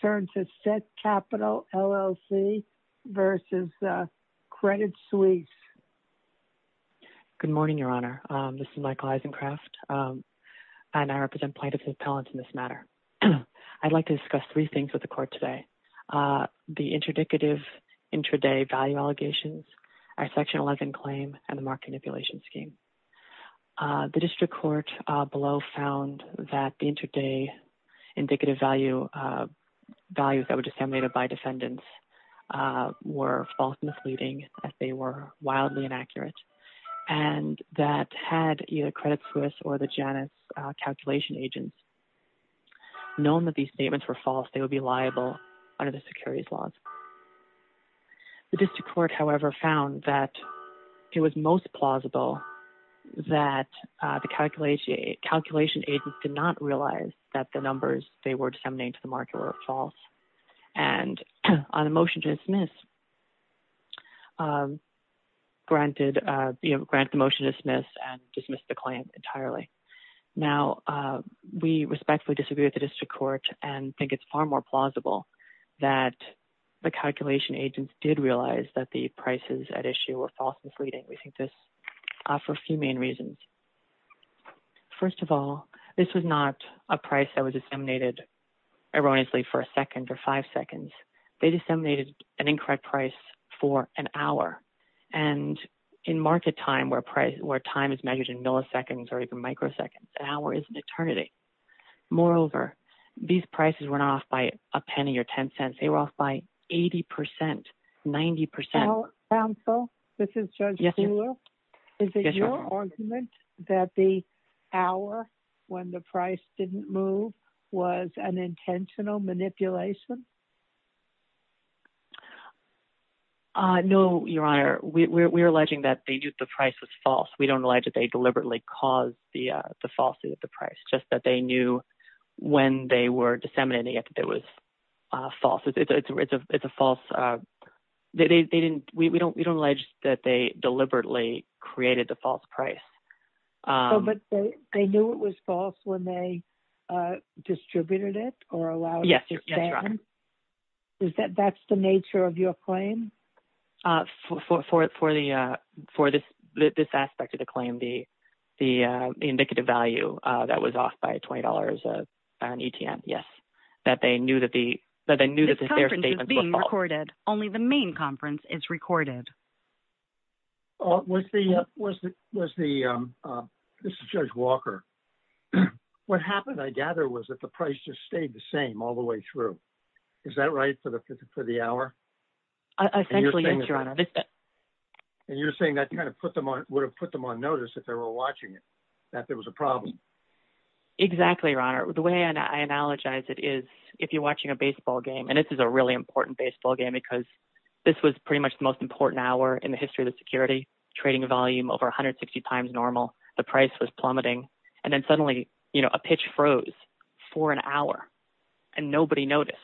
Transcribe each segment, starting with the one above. turns to Set Capital LLC v. Credit Suisse. Good morning, Your Honor. This is Michael Eisencraft, and I represent plaintiffs' appellants in this matter. I'd like to discuss three things with the court today. The interdictive intraday value allegations, our Section 11 claim, and the market manipulation scheme. The district court below found that the intraday indicative values that were disseminated by defendants were false and misleading, that they were wildly inaccurate, and that had either Credit Suisse or the Janus calculation agents known that these statements were false, they would be liable under the securities laws. The district court, however, found that it was most plausible that the calculation agents did not realize that the numbers they were disseminating to the market were false, and on a motion to dismiss, granted the motion to dismiss and dismissed the claim entirely. Now, we respectfully disagree with the district court and think it's far more plausible that the calculation agents did realize that the prices at issue were false and misleading. We think this for a few main reasons. First of all, this was not a price that was disseminated erroneously for a second or five seconds. They disseminated an incorrect price for an hour, and in market time where time is measured in milliseconds or even microseconds, the hour is an eternity. Moreover, these prices were not off by a penny or ten cents, they were off by 80 percent, 90 percent. Counsel, this is Judge Kuehler. Is it your argument that the hour, when the price didn't move, was an intentional manipulation? Uh, no, Your Honor. We're alleging that the price was false. We don't deliberately cause the falsity of the price, just that they knew when they were disseminating it, that it was false. It's a false, uh, they didn't, we don't, we don't allege that they deliberately created the false price. But they knew it was false when they distributed it or allowed it to stand? Yes, Your Honor. Is that, that's the nature of your claim? Uh, for, for, for the, uh, for this, this aspect of the claim, the, the, uh, indicative value, uh, that was off by $20, uh, on ETM, yes, that they knew that the, that they knew that the fair statement was false. This conference is being recorded. Only the main conference is recorded. Uh, was the, was the, was the, um, uh, this is Judge Walker. What happened, I gather, was that the price just stayed the same all the way through. Is that right for the, for the hour? Essentially, yes, Your Honor. And you're saying that you kind of put them on, would have put them on notice if they were watching it, that there was a problem? Exactly, Your Honor. The way I, I analogize it is, if you're watching a baseball game, and this is a really important baseball game because this was pretty much the most important hour in the history of the security, trading volume over 160 times normal, the price was plummeting, and then suddenly, you know, a pitch froze for an hour and nobody noticed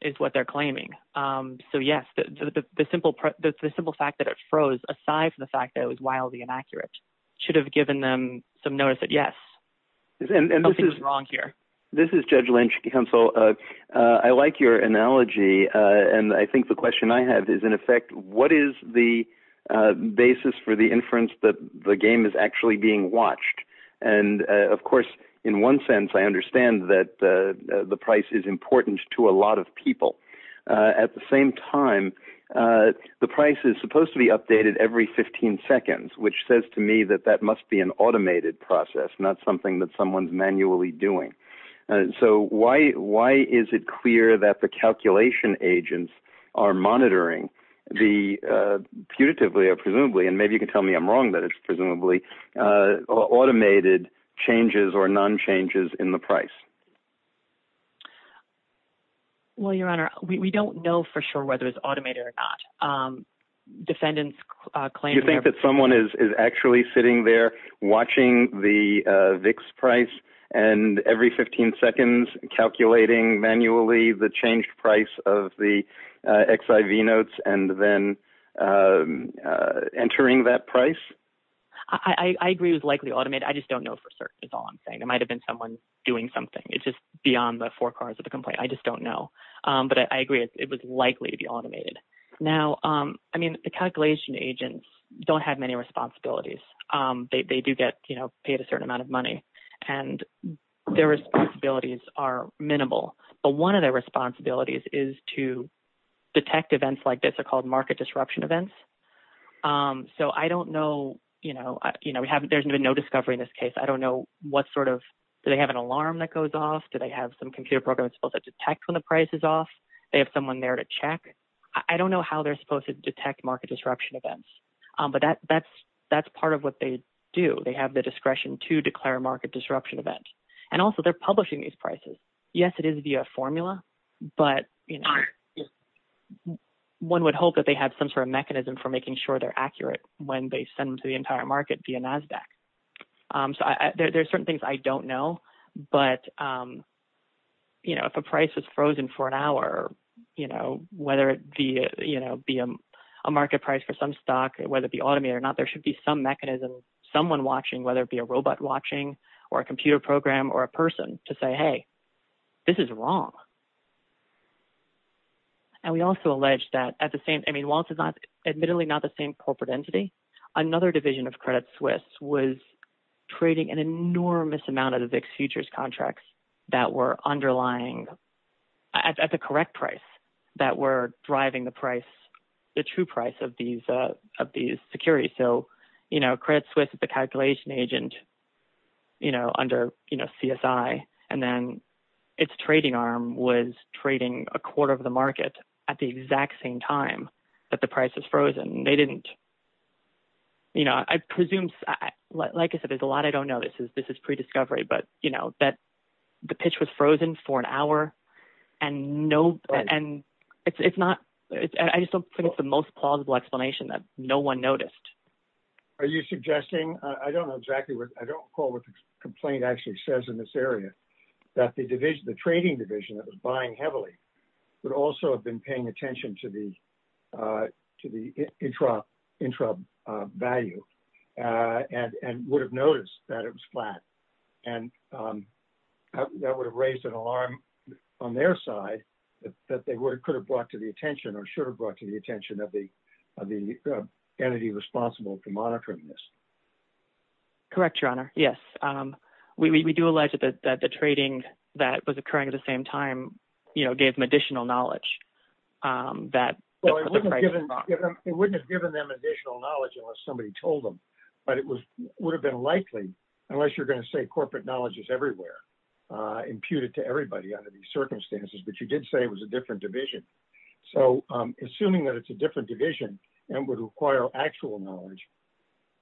is what they're claiming. Um, so yes, the, the, the simple, the simple fact that it froze aside from the fact that it was wildly inaccurate should have given them some notice that, yes, something's wrong here. This is Judge Lynch, counsel. Uh, uh, I like your analogy, uh, and I think the question I have is, in effect, what is the, uh, basis for the inference that the game is actually being watched? And, uh, of course, in one sense, I understand that, uh, the price is important to a lot of people. Uh, at the same time, uh, the price is supposed to be updated every 15 seconds, which says to me that that must be an automated process, not something that someone's manually doing. Uh, so why, why is it clear that the calculation agents are monitoring the, uh, putatively or presumably, and maybe you can tell me I'm wrong, but it's presumably, uh, automated changes or non-changes in the price? Well, Your Honor, we, we don't know for sure whether it's automated or not. Um, defendants, uh, claim that- You think that someone is, is actually sitting there watching the, uh, VIX price and every 15 seconds calculating manually the changed price of the, uh, XIV notes and then, uh, uh, entering that price? I, I, I agree it was likely automated. I just don't know for certain is all I'm saying. It might've been someone doing something. It's just beyond the four corners of the complaint. I just don't know. Um, but I agree it was likely to be automated. Now, um, I mean, the calculation agents don't have many responsibilities. Um, they, they do get, you know, paid a certain amount of money and their responsibilities are minimal. But one of their responsibilities is to detect market disruption events. Um, so I don't know, you know, uh, you know, we haven't, there's been no discovery in this case. I don't know what sort of, do they have an alarm that goes off? Do they have some computer program that's supposed to detect when the price is off? They have someone there to check. I don't know how they're supposed to detect market disruption events. Um, but that, that's, that's part of what they do. They have the discretion to declare market disruption events. And also they're publishing these prices. Yes, it is via formula, but you know, one would hope that they had some sort of mechanism for making sure they're accurate when they send them to the entire market via NASDAQ. Um, so I, there's certain things I don't know, but, um, you know, if a price is frozen for an hour, you know, whether it be, you know, be a market price for some stock, whether it be automated or not, there should be some mechanism, someone watching, whether it be a robot watching or a computer program or a person to say, Hey, this is wrong. And we also allege that at the same, I mean, Walt is not admittedly not the same corporate entity. Another division of Credit Suisse was trading an enormous amount of the VIX futures contracts that were underlying at the correct price that were driving the price, the true price of these, uh, of these securities. So, you know, Credit Suisse, the calculation agent, you know, under, you know, CSI and then it's trading arm was trading a quarter of the market at the exact same time, but the price is frozen. They didn't, you know, I presume, like I said, there's a lot, I don't know. This is, this is pre-discovery, but you know, that the pitch was frozen for an hour and no, and it's, it's not, I just don't think it's the most plausible explanation that no one noticed. Are you suggesting, I don't know exactly what, I don't recall what the complaint actually says in this area that the division, the trading division that was buying heavily would also have been paying attention to the, uh, to the intra, intra, uh, value, uh, and, and would have noticed that it was flat and, um, that would have raised an alarm on their side that they were, it could have brought to the attention or should have brought to the attention of the, of the entity responsible for monitoring this. Correct, your honor. Yes. Um, we, we do allege that the, that the trading that was occurring at the same time, you know, gave them additional knowledge, um, that it wouldn't have given them additional knowledge unless somebody told them, but it was, would have been likely unless you're going to say corporate knowledge is everywhere, uh, imputed to everybody under these circumstances, but you did say it was a different division. So, um, assuming that it's a different division and would require actual knowledge,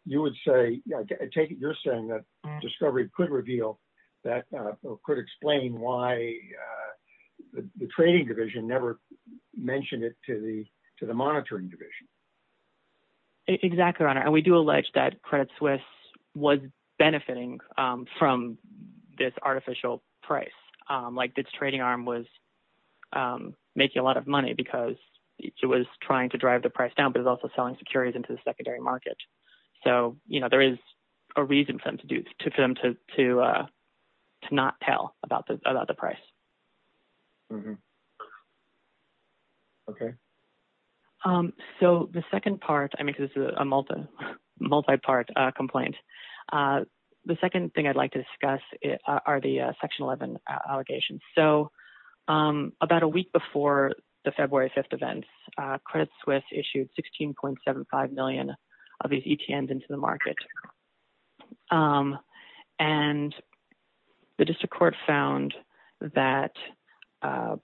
you would say, yeah, take it. You're saying that discovery could reveal that, uh, could explain why, uh, the, the trading division never mentioned it to the, to the monitoring division. Exactly. And we do allege that credit Swiss was benefiting, um, from this artificial price. Um, like this trading arm was, um, making a lot of money because it was trying to drive the price down, but it was also selling securities into the secondary market. So, you know, there is a reason for them to do to, for them to, to, uh, to not tell about the, about the price. Okay. Um, so the second part, I mean, cause this is a multi multi-part complaint. Uh, the second thing I'd like to discuss it, uh, are the, uh, section 11 allegations. So, um, about a week before the February 5th events, uh, credit Swiss issued 16.75 million of these ETNs into the market. Um, and the district court found that, uh,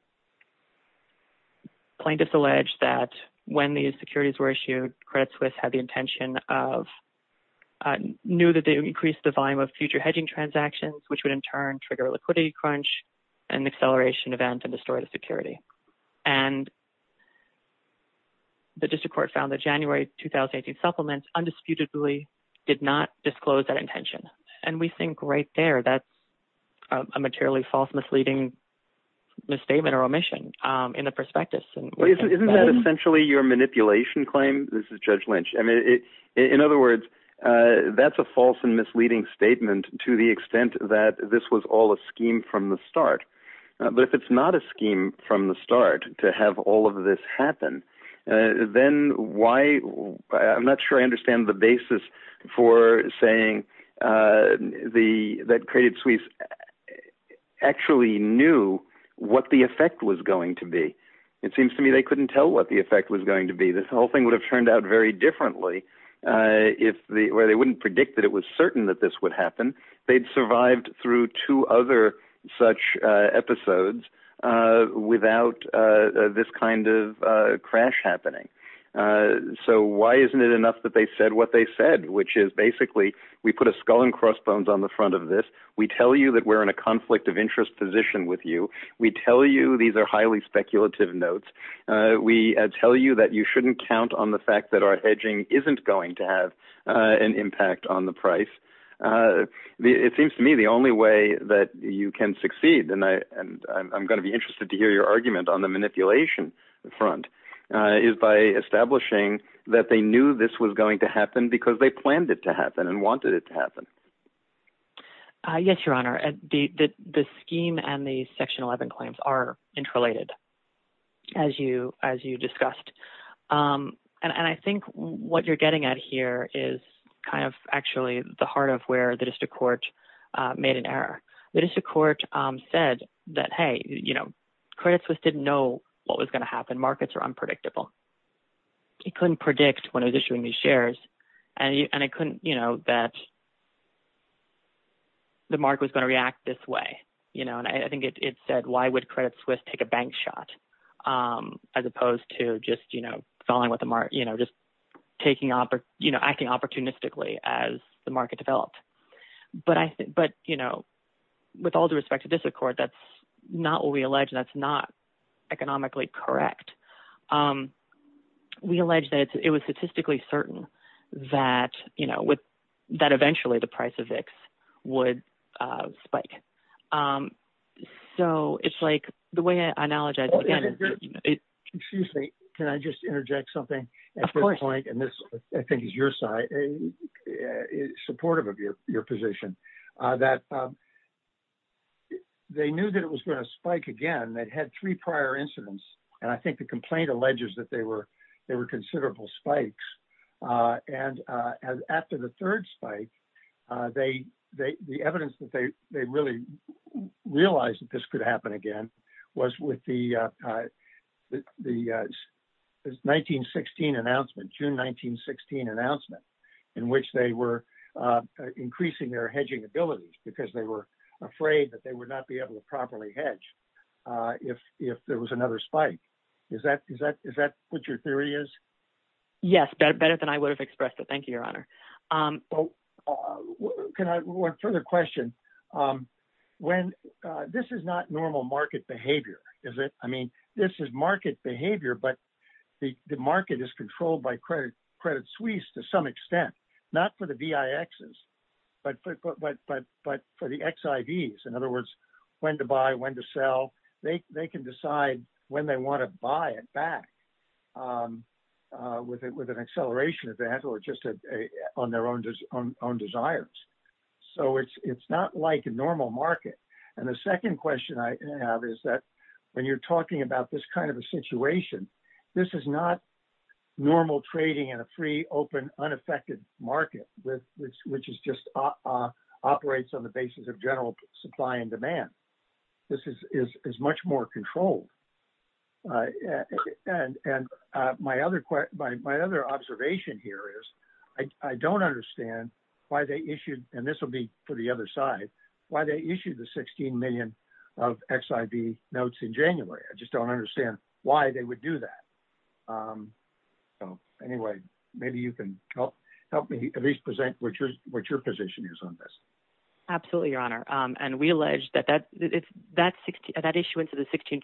plaintiffs allege that when these future hedging transactions, which would in turn trigger liquidity crunch and acceleration events and destroy the security. And the district court found that January, 2018 supplements undisputedly did not disclose that intention. And we think right there, that's a materially false misleading misstatement or omission, um, in the perspective. Isn't that essentially your misleading statement to the extent that this was all a scheme from the start, but if it's not a scheme from the start to have all of this happen, uh, then why I'm not sure. I understand the basis for saying, uh, the, that credit Swiss actually knew what the effect was going to be. It seems to me, they couldn't tell what the effect was going to be. The whole thing would have turned out very differently. Uh, if the, or they wouldn't predict that it was certain that this would happen, they'd survived through two other such, uh, episodes, uh, without, uh, this kind of, uh, crash happening. Uh, so why isn't it enough that they said what they said, which is basically we put a skull and crossbones on the front of this. We tell you that we're in a conflict of interest position with you. We tell you these are highly speculative notes. Uh, we tell you that you shouldn't count on the fact that our hedging isn't going to have, uh, an impact on the price. Uh, the, it seems to me the only way that you can succeed. And I, and I'm going to be interested to hear your argument on the manipulation front, uh, is by establishing that they knew this was going to happen because they planned it to happen and wanted it to happen. Uh, yes, Your Honor. And the, the, the scheme and the section 11 claims are interrelated as you, as you discussed. Um, and I think what you're getting at here is kind of actually the heart of where the district court, uh, made an error. The district court, um, said that, Hey, you know, credit Swiss didn't know what was going to happen. Markets are unpredictable. He couldn't predict when I was issuing these shares and it couldn't, you know, that the market was going to react this way, you know, and I think it said, why would credit Swiss take a bank shot? Um, as opposed to just, you know, falling with the mark, you know, just taking off or, you know, acting opportunistically as the market developed. But I think, but you know, with all due respect to this accord, that's not what we allege. That's not economically correct. Um, we allege that it was statistically certain that, you know, with eventually the price of X would, uh, spike. Um, so it's like the way I know, excuse me, can I just interject something at this point? And this, I think is your side supportive of your, your position, uh, that, um, they knew that it was going to spike again, that had three prior incidents. And I think the complaint alleges that they were, they were considerable spikes. Uh, and, uh, as after the third spike, uh, they, they, the evidence that they, they really realized that this could happen again was with the, uh, the, uh, 1916 announcement, June, 1916 announcement in which they were, uh, increasing their hedging abilities because they were afraid that they would not be able to properly hedge. Uh, if, if there was another spike, is that, is that, is that what your theory is? Yes. Better, better than I would have expressed it. Thank you, your honor. Um, can I work for the question? Um, when, uh, this is not normal market behavior, is it? I mean, this is market behavior, but the market is controlled by credit, credit suisse to some extent, not for the VIXs, but, but, but, but, but for the XIVs, in other words, when to buy, when to sell, they, they can decide when they want to buy it back, um, uh, with it, with an acceleration event or just a, a, on their own, on their own desires. So it's, it's not like a normal market. And the second question I have is that when you're talking about this kind of a situation, this is not normal trading in a free, open, unaffected market with which, which is just, uh, uh, operates on the basis of general supply and demand. This is, is, is much more controlled. Uh, and, and, uh, my other question, my, my other observation here is I, I don't understand why they issued, and this will be for the other side, why they issued the 16 million of XIV notes in January. I just don't understand why they would do that. Um, so anyway, maybe you can help, help me at least present what your, what your position is on this. Absolutely, Your Honor. Um, and we allege that, that, that, that 16, that issuance of the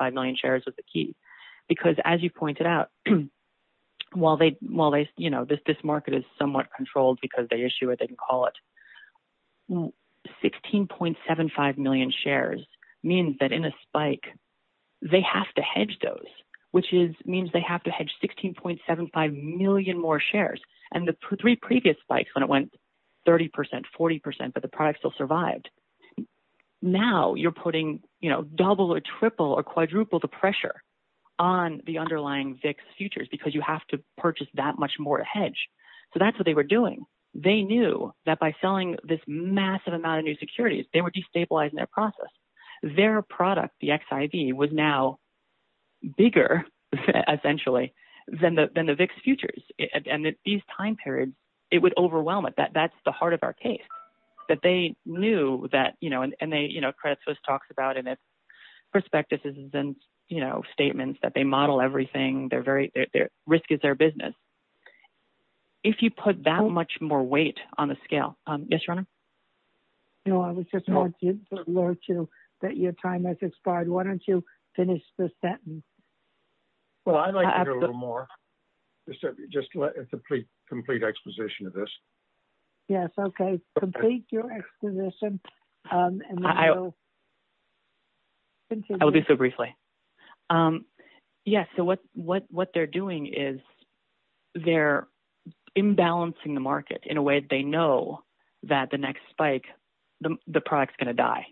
16.75 million shares was the key because as you pointed out, while they, while they, you know, this, this market is somewhat controlled because they issue it, they can call it. 16.75 million shares means that in a spike they have to hedge those, which is, means they have to hedge 16.75 million more shares. And the three previous spikes when it went 30%, 40%, but the product still survived. Now you're putting, you know, double or triple or quadruple the pressure on the underlying VIX futures because you have to purchase that much more hedge. So that's what they were doing. They knew that by selling this massive amount of new securities, they were destabilizing their process. Their product, the XIV, was now bigger essentially than the, than the VIX futures. And these time periods, it would overwhelm it. That, that's the heart of our case, that they knew that, you know, and, and they, you know, Credit Suisse talks about in its prospectuses and, you know, statements that they model everything. They're very, their risk is their business. If you put that much more weight on a scale. You know, I was just going to alert you that your time has expired. Why don't you finish the sentence? Well, I'd like to hear a little more. Just a complete, complete exposition of this. Yes. Okay. Complete your exposition. I will do so briefly. Yes. So what, what, what they're doing is they're imbalancing the market in a way that they know that the next spike, the product's going to die.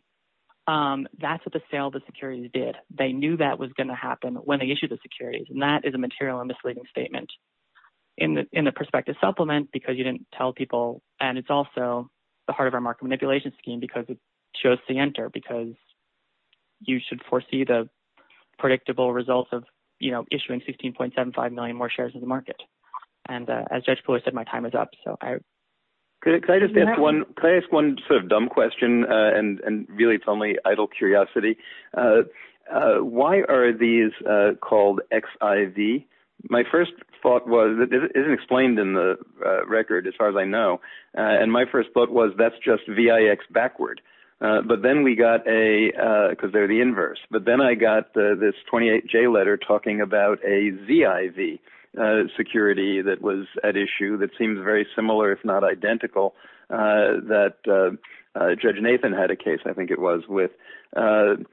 That's what the sale of the securities did. They knew that was going to happen when they issued the securities. And that is a material and misleading statement. In the, in the prospective supplement, because you didn't tell people, and it's also the heart of our market manipulation scheme, because it shows the enter, because you should foresee the predictable results of, you know, issuing 16.75 million more shares in the market. And as Judge Fuller said, my time is up. So I. Can I just ask one, can I ask one sort of dumb question? And really it's only idle curiosity. Why are these called XIV? My first thought was it isn't explained in the record as far as I know. And my first book was, that's just VIX backward. But then we got a, because they're the inverse, but then I got this 28 J letter talking about a ZIV security that was at issue that seems very similar, if not identical, that Judge Nathan had a case. I think it was with, and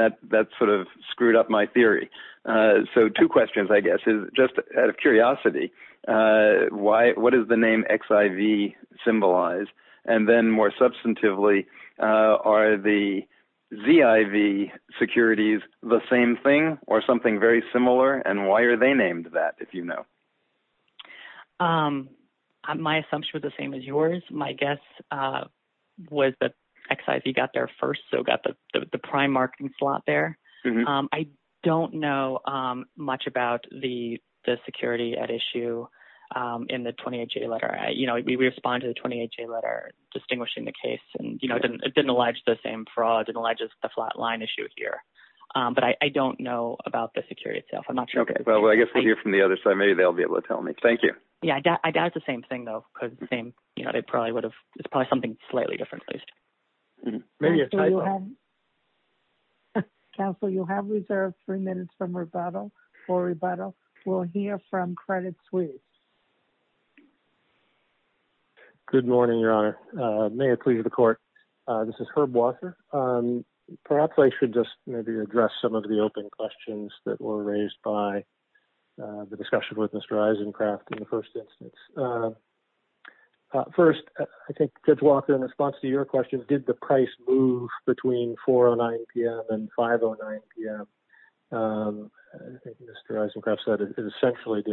that, sort of screwed up my theory. So two questions, I guess, is just out of curiosity, why, what is the name XIV symbolized? And then more substantively, are the ZIV securities the same thing or something very similar? And why are they named that, if you know? My assumption was the same as yours. My guess was that XIV got there first. So got the, the prime marking slot there. I don't know much about the, the security at issue in the 28 J letter. I, you know, we respond to the 28 J letter, distinguishing the case and, you know, it didn't allege the same fraud and alleges the flat line issue here. But I don't know about the security itself. I'm not sure. Well, I guess we'll hear from the other side. Maybe they'll be able to tell me. Thank you. Yeah. I got the same thing though, because the same, you know, it probably would have, it's probably something slightly different. Maybe a tie-in. Counselor, you have reserved three minutes for rebuttal, for rebuttal. We'll hear from Credit Suisse. Good morning, Your Honor. May it please the court. This is Herb Walker. Perhaps I should just maybe address some of the open questions that were raised by the discussion with Mr. Isencraft in the first instance. First, I think Judge Walker, in response to your question, did the price move between 4.09 PM and 5.09 PM? I think Mr. Isencraft said it essentially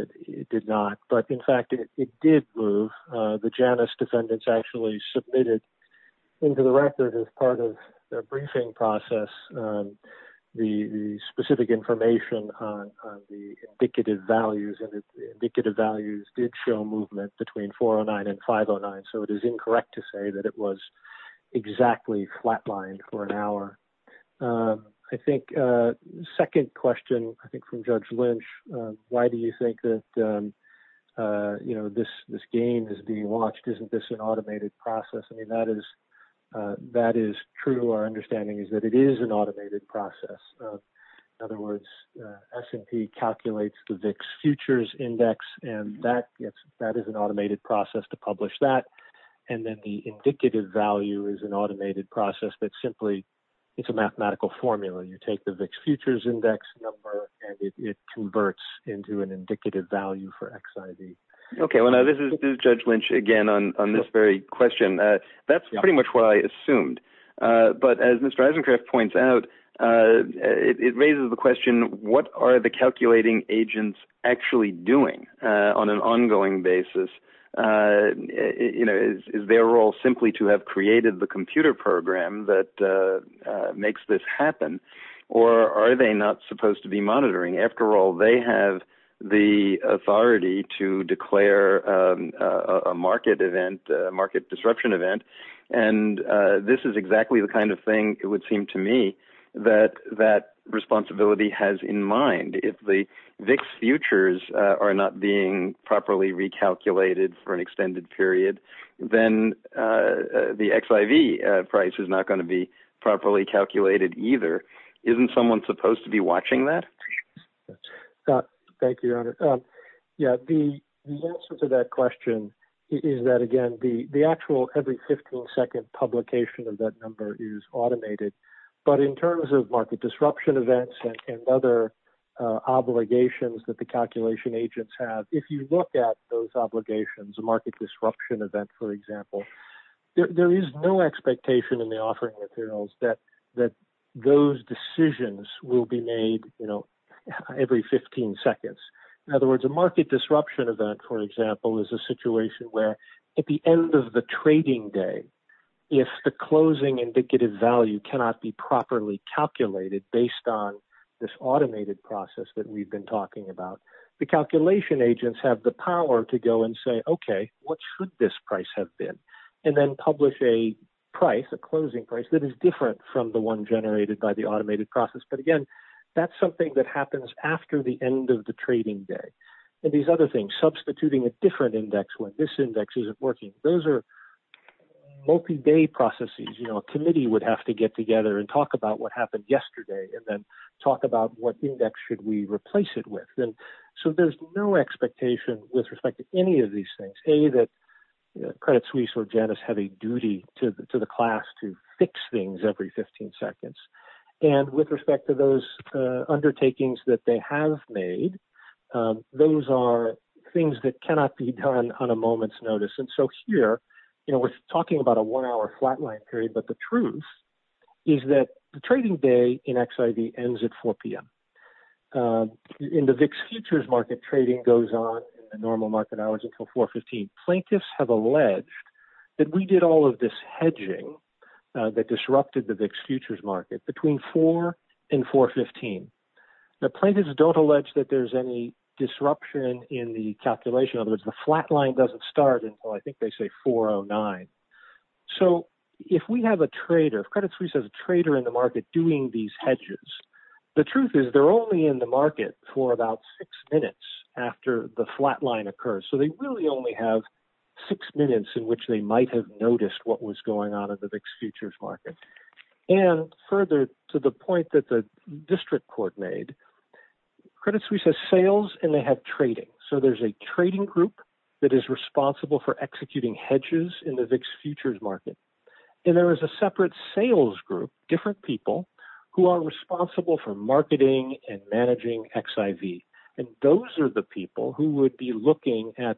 did not, but in fact it did move. The Janus defendants actually submitted into the record as part of their did show movement between 4.09 and 5.09, so it is incorrect to say that it was exactly flatlined for an hour. I think the second question, I think from Judge Lynch, why do you think that, you know, this game is being watched? Isn't this an automated process? I mean, that is true. Our understanding is that it is an automated process. In other words, S&P calculates the VIX Futures Index, and that is an automated process to publish that, and then the indicative value is an automated process, but simply it's a mathematical formula. You take the VIX Futures Index number and it converts into an indicative value for XIV. Okay, well now this is Judge Lynch again on this very question. That's pretty much what I assumed, but as Mr. Isencraft points out, it raises the question, what are the calculating agents actually doing on an ongoing basis? You know, is their role simply to have created the computer program that makes this happen, or are they not supposed to be monitoring? After all, they have the authority to declare a market disruption event, and this is exactly the kind of thing, it would seem to me, that that responsibility has in mind. If the VIX Futures are not being properly recalculated for an extended period, then the XIV price is not going to be properly recorded. The answer to that question is that, again, the actual every 15-second publication of that number is automated, but in terms of market disruption events and other obligations that the calculation agents have, if you look at those obligations, a market disruption event, for example, there is no expectation in the offering materials that those decisions will be made every 15 seconds. In other words, a market disruption event, for example, is a situation where at the end of the trading day, if the closing indicative value cannot be properly calculated based on this automated process that we've been talking about, the calculation agents have the power to go and say, okay, what should this price have been, and then publish a price, a closing price, that is different from the one generated by the automated process. But again, that's something that happens after the end of the trading day. And these other things, substituting a different index when this index isn't working, those are multi-day processes. A committee would have to get together and talk about what happened yesterday, and then talk about what index should we replace it with. So there's no expectation with respect to any of these things, A, that Credit Suisse or Janus have a duty to the class to fix things every 15 seconds. And with respect to those undertakings that they have made, those are things that cannot be done on a moment's notice. And so here, we're talking about a one-hour flatline period, but the truth is that the trading day in XIV ends at 4 p.m. In the VIX futures market, trading goes on in the normal market hours until 4 p.m. Plaintiffs have alleged that we did all of this hedging that disrupted the VIX futures market between 4 p.m. and 4 p.m. The plaintiffs don't allege that there's any disruption in the calculation. In other words, the flatline doesn't start until, I think they say, 4 p.m. to 9 p.m. So if we have a trader, if Credit Suisse has a trader in the market doing these hedges, the truth is they're only in the market for about six minutes after the flatline occurs. So they really only have six minutes in which they might have noticed what was going on in the VIX futures market. And further to the point that the district court made, Credit Suisse has sales and they have trading. So there's a trading group that is responsible for executing hedges in the VIX futures market. And there is a separate sales group, different people, who are responsible for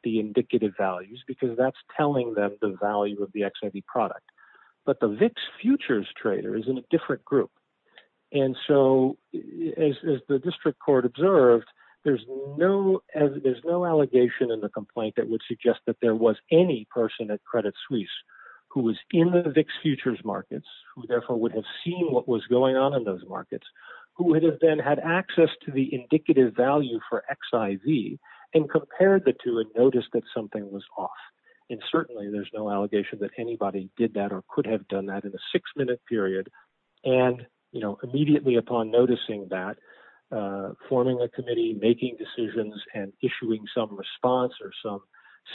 the indicative values because that's telling them the value of the XIV product. But the VIX futures trader is in a different group. And so as the district court observed, there's no allegation in the complaint that would suggest that there was any person at Credit Suisse who was in the VIX futures markets, who therefore would have seen what was going on in those markets, who would have then had access to the indicative value for XIV and compared the two and noticed that something was off. And certainly there's no allegation that anybody did that or could have done that in a six minute period. And immediately upon noticing that, forming a committee, making decisions and issuing some response or some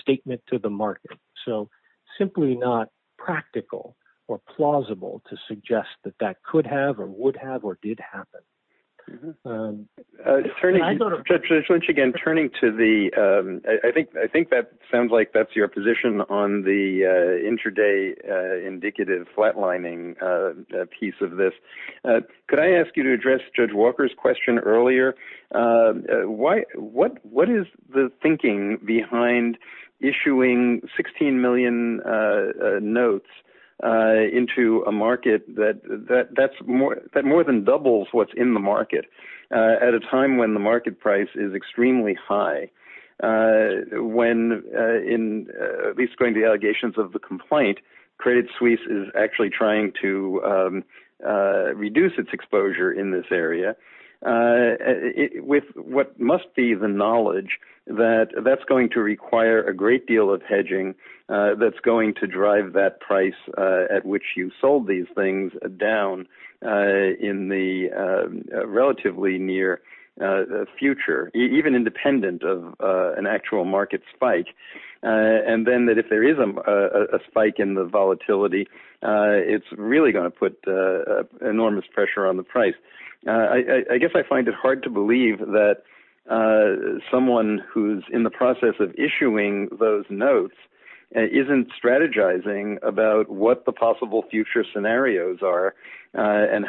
statement to the market. So simply not practical or plausible to suggest that that could have or would have or did happen. Judge Lynch again, turning to the, I think that sounds like that's your position on the intraday indicative flatlining piece of this. Could I ask you to address Judge Walker's question earlier? What is the thinking behind issuing 16 million notes into a market that more than doubles what's in the market at a time when the market price is extremely high? When at least going to the allegations of the complaint, Credit Suisse is actually trying to reduce its exposure in this area with what must be the knowledge that that's going to require a great deal of hedging that's going to drive that price at which you sold these things down in the relatively near future, even independent of an actual market spike. And then that if there is a spike in the I guess I find it hard to believe that someone who's in the process of issuing those notes isn't strategizing about what the possible future scenarios are and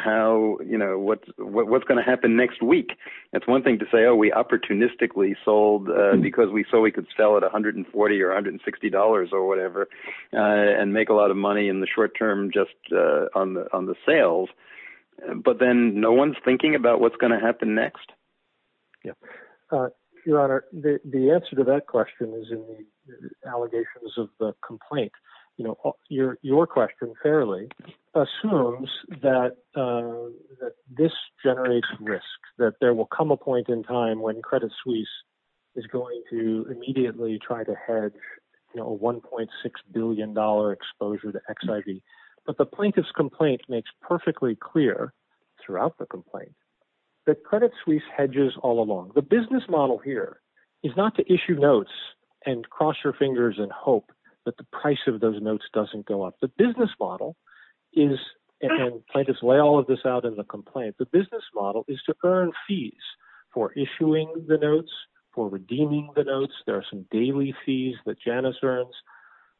what's going to happen next week. That's one thing to say, oh, we opportunistically sold because we saw we could sell at $140 or $160 or whatever and make a lot of money in the short term just on the sales. But then no one's thinking about what's going to happen next. Yeah. Your Honor, the answer to that question is in the allegations of the complaint. Your question fairly assumes that this generates risk, that there will come a point in time when Credit Suisse is going to immediately try to hedge a $1.6 billion exposure to XIV. But the plaintiff's complaint makes perfectly clear throughout the complaint that Credit Suisse hedges all along. The business model here is not to issue notes and cross your fingers and hope that the price of those notes doesn't go up. The business model is, and plaintiffs lay all of this out in the for redeeming the notes. There are some daily fees that Janice earns,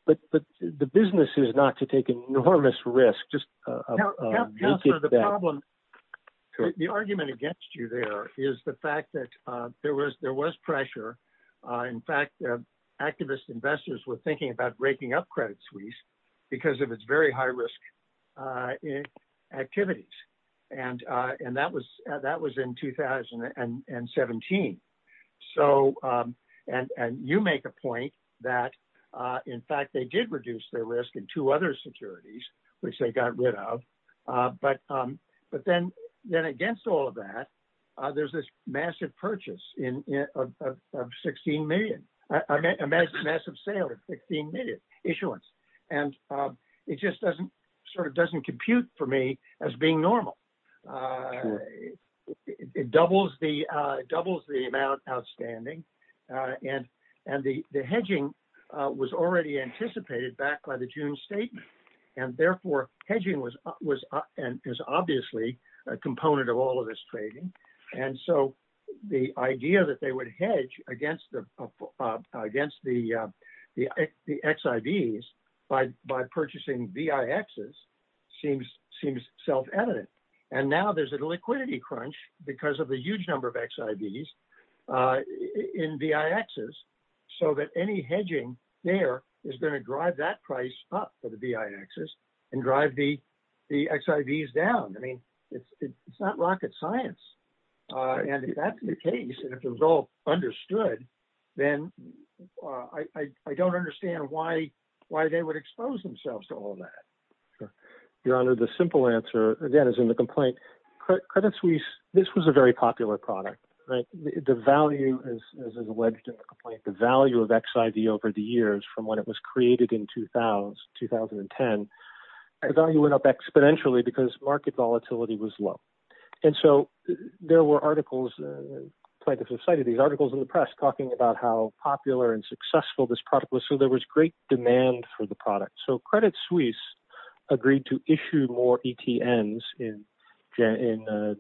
but the business is not to take enormous risk. Just make it that. Counselor, the problem, the argument against you there is the fact that there was pressure. In fact, activist investors were thinking about breaking up Credit Suisse because of its very low security. You make a point that, in fact, they did reduce their risk in two other securities, which they got rid of. But then against all of that, there's this massive purchase of $16 million, a massive sale of $16 million issuance. It just doesn't compute for me as being normal. It doubles the amount outstanding and the hedging was already anticipated back by the June statement. And therefore, hedging is obviously a component of all of this trading. And so, the idea that now there's a liquidity crunch because of the huge number of XIVs in VIXs, so that any hedging there is going to drive that price up for the VIXs and drive the XIVs down. It's not rocket science. And if that's the case, if it's all understood, then I don't understand why they would expose themselves to all that. Your Honor, the simple answer, again, is in the complaint. Credit Suisse, this was a very popular product. The value of XIV over the years from when it was created in 2010, the value went up exponentially because market volatility was low. And so, there were articles in the press talking about how popular and successful this product was. So, there was great demand for the product. So, Credit Suisse agreed to issue more ETNs in January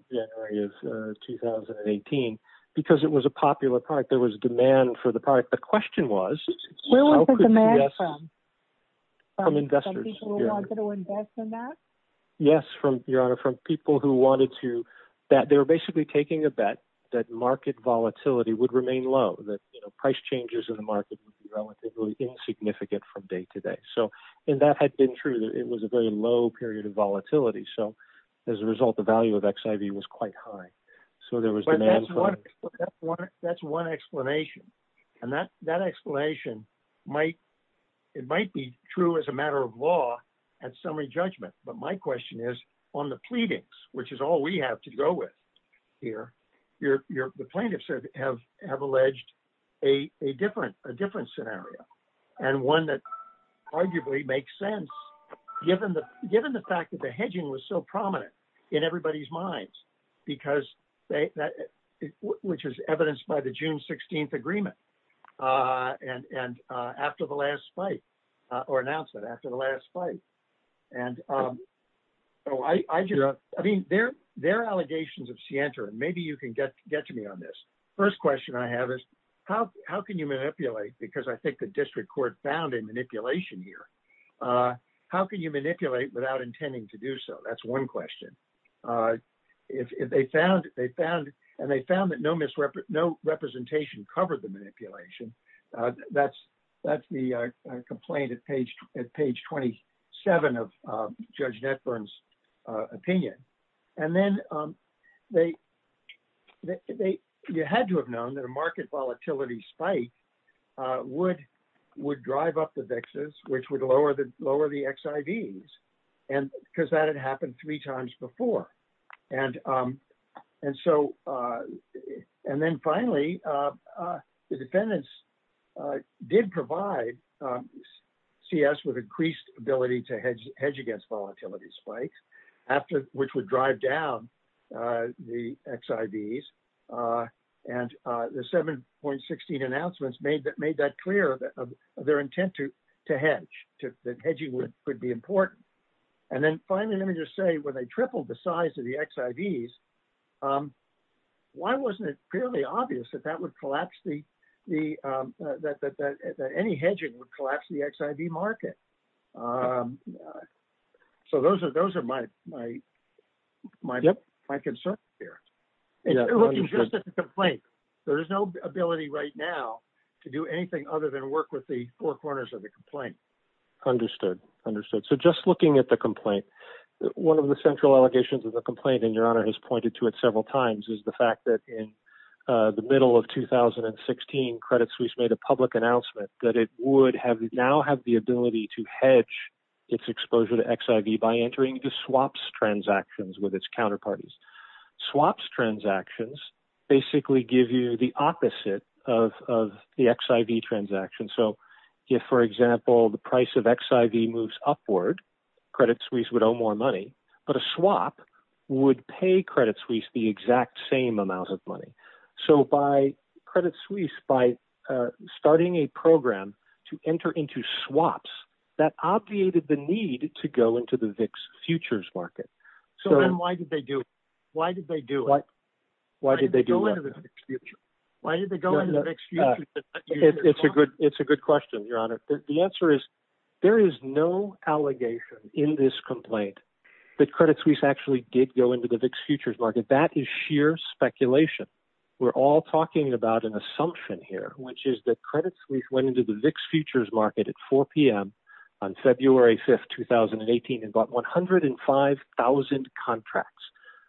of 2018 because it was a popular product. There was demand for the product. The question was- Where was the demand from? From investors. From people who wanted to invest in that? Yes, Your Honor, from people who wanted to. They were basically taking a bet that market volatility would remain low, that price changes in the market would be relatively insignificant from day to day. So, and that had been true. It was a very low period of volatility. So, as a result, the value of XIV was quite high. So, there was- That's one explanation. And that explanation, it might be true as a matter of law and summary judgment. But my question is, on the pleadings, which is all we have to go with here, the plaintiffs have alleged a different scenario, and one that arguably makes sense, given the fact that the hedging was so prominent in everybody's minds, which is evidenced by the June 16th agreement, and after the last fight, or announcement after the last fight. And so, I mean, there are allegations of scienter, and maybe you can get to me on this. First question I have is, how can you manipulate, because I think the district court found a manipulation here, how can you manipulate without intending to do so? That's one question. And they found that no representation covered the manipulation. That's the complaint at page 27 of Judge Netburn's opinion. And then, you had to have known that a market volatility spike would drive up the VIXs, which would lower the XIVs, because that had happened three times before. And then finally, the defendants did provide CS with increased ability to hedge against volatility spikes, which would drive down the XIVs. And the 7.16 announcements made that clear, their intent to hedge, that hedging would be important. And then finally, let me just say, they tripled the size of the XIVs. Why wasn't it clearly obvious that any hedging would collapse the XIV market? So, those are my concerns here. And looking just at the complaint, there is no ability right now to do anything other than work with the four corners of the complaint. Understood. So, just looking at the complaint, one of the central allegations of the complaint, and Your Honor has pointed to it several times, is the fact that in the middle of 2016, Credit Suisse made a public announcement that it would now have the ability to hedge its exposure to XIV by entering the swaps transactions with its counterparties. Swaps transactions basically give you the opposite of the XIV transaction. So, if, for example, the price of XIV moves upward, Credit Suisse would owe more money, but a swap would pay Credit Suisse the exact same amounts of money. So, by Credit Suisse, by starting a program to enter into swaps, that obviated the need to go into the VIX futures market. So, then why did they do it? Why did they go into the VIX futures market? Why did they go into the VIX futures market? It's a good question, Your Honor. The answer is, there is no allegation in this complaint that Credit Suisse actually did go into the VIX futures market. That is sheer speculation. We're all talking about an assumption here, which is that Credit Suisse went into the VIX futures market at 4 p.m. on February 5th, 2018, and bought 105,000 contracts,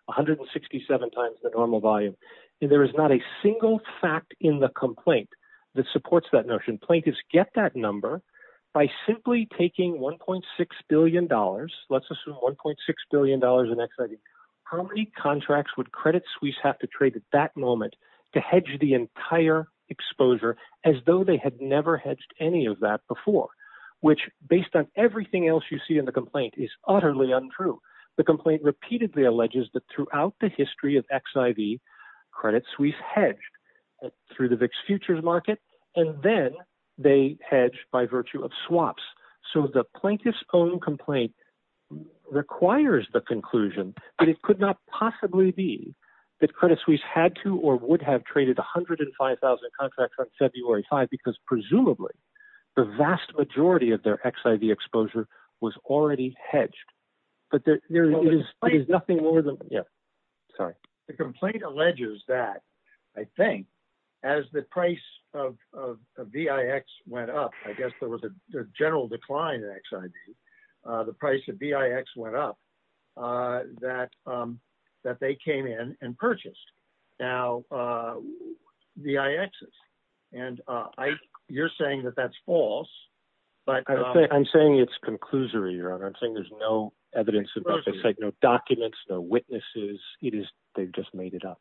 167 times the normal volume. There is not a single fact in the complaint that supports that notion. Plaintiffs get that number by simply taking $1.6 billion, let's assume $1.6 billion in XIV. How many contracts would Credit Suisse have to trade at that moment to hedge the entire exposure, as though they had never hedged any of that before? Which, based on everything else you see in the complaint, is utterly untrue. The complaint repeatedly alleges that throughout the history of XIV, Credit Suisse hedged through the VIX futures market, and then they hedged by virtue of swaps. So, the plaintiff's own complaint requires the conclusion, but it could not possibly be that Credit Suisse had to or would have traded 105,000 contracts on February 5th, because presumably the vast majority of their XIV exposure was already hedged. The complaint alleges that, I think, as the price of VIX went up, I guess there was a general decline in XIV, the price of VIX went up, that they came in and purchased. Now, VIXs, and you're saying that that's false. I'm saying it's conclusory, Your Honor. I'm saying there's no evidence, no documents, no witnesses. They just made it up.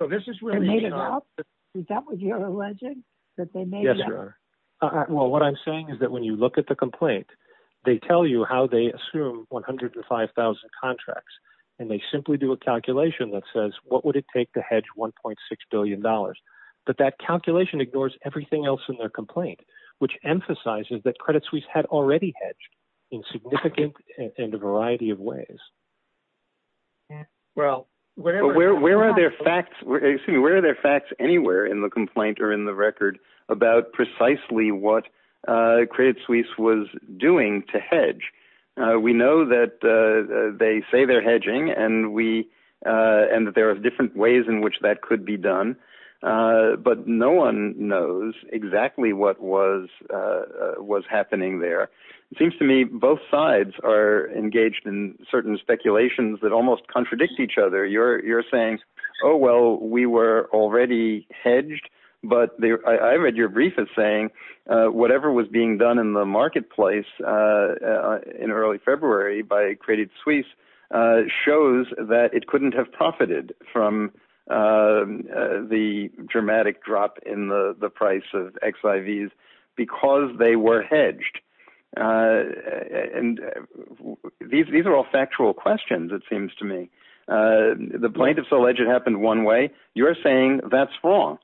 They made it up? Is that what you're alleging, that they made it up? Yes, Your Honor. Well, what I'm saying is that when you look at the complaint, they tell you how they assume 105,000 contracts, and they simply do a calculation that says, what would it take to hedge $1.6 billion, but that calculation ignores everything else in their complaint, which emphasizes that Credit Suisse had already hedged in significant and a variety of ways. Well, where are their facts, where are their facts anywhere in the complaint or in the record about precisely what Credit Suisse was doing to hedge? We know that they say they're hedging, and there are different ways in which that could be done, but no one knows exactly what was happening there. It seems to me both sides are engaged in certain speculations that almost contradict each other. You're saying, oh, well, we were already hedged, but I read your brief as saying whatever was being done in the marketplace in early February by Credit Suisse shows that it couldn't have profited from the dramatic drop in the price of XIVs because they were hedged. These are all factual questions, it seems to me. The plaintiffs alleged it happened one way. You're saying that's wrong.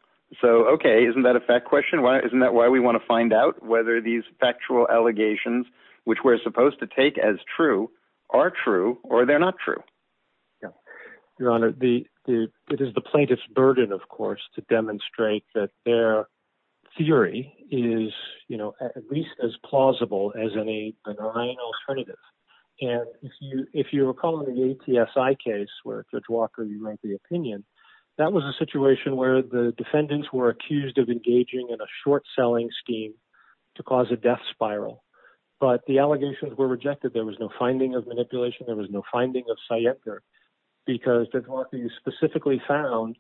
Okay, isn't that a fact question? Isn't that why we want to find out whether these factual allegations, which we're supposed to take as true, are true or they're not true? Your Honor, it is the plaintiff's burden, of course, to demonstrate that their theory is at least as plausible as any benign alternative. If you recall in the ATSI case, where Judge Walker, you made the opinion, that was a situation where the defendants were accused of engaging in a short-selling scheme to cause a death spiral, but the allegations were rejected. There was no finding of manipulation. There was no finding of scientific, because Judge Walker, you specifically found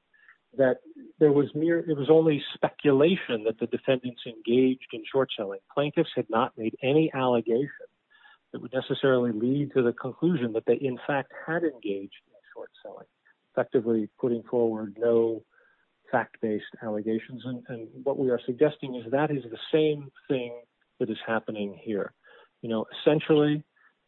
that it was only speculation that the defendants engaged in short-selling. Plaintiffs had not made any allegation that would necessarily lead to the conclusion that they, in fact, had engaged in short-selling, effectively putting forward no fact-based allegations. What we are suggesting is that is the same thing that is happening here. Essentially,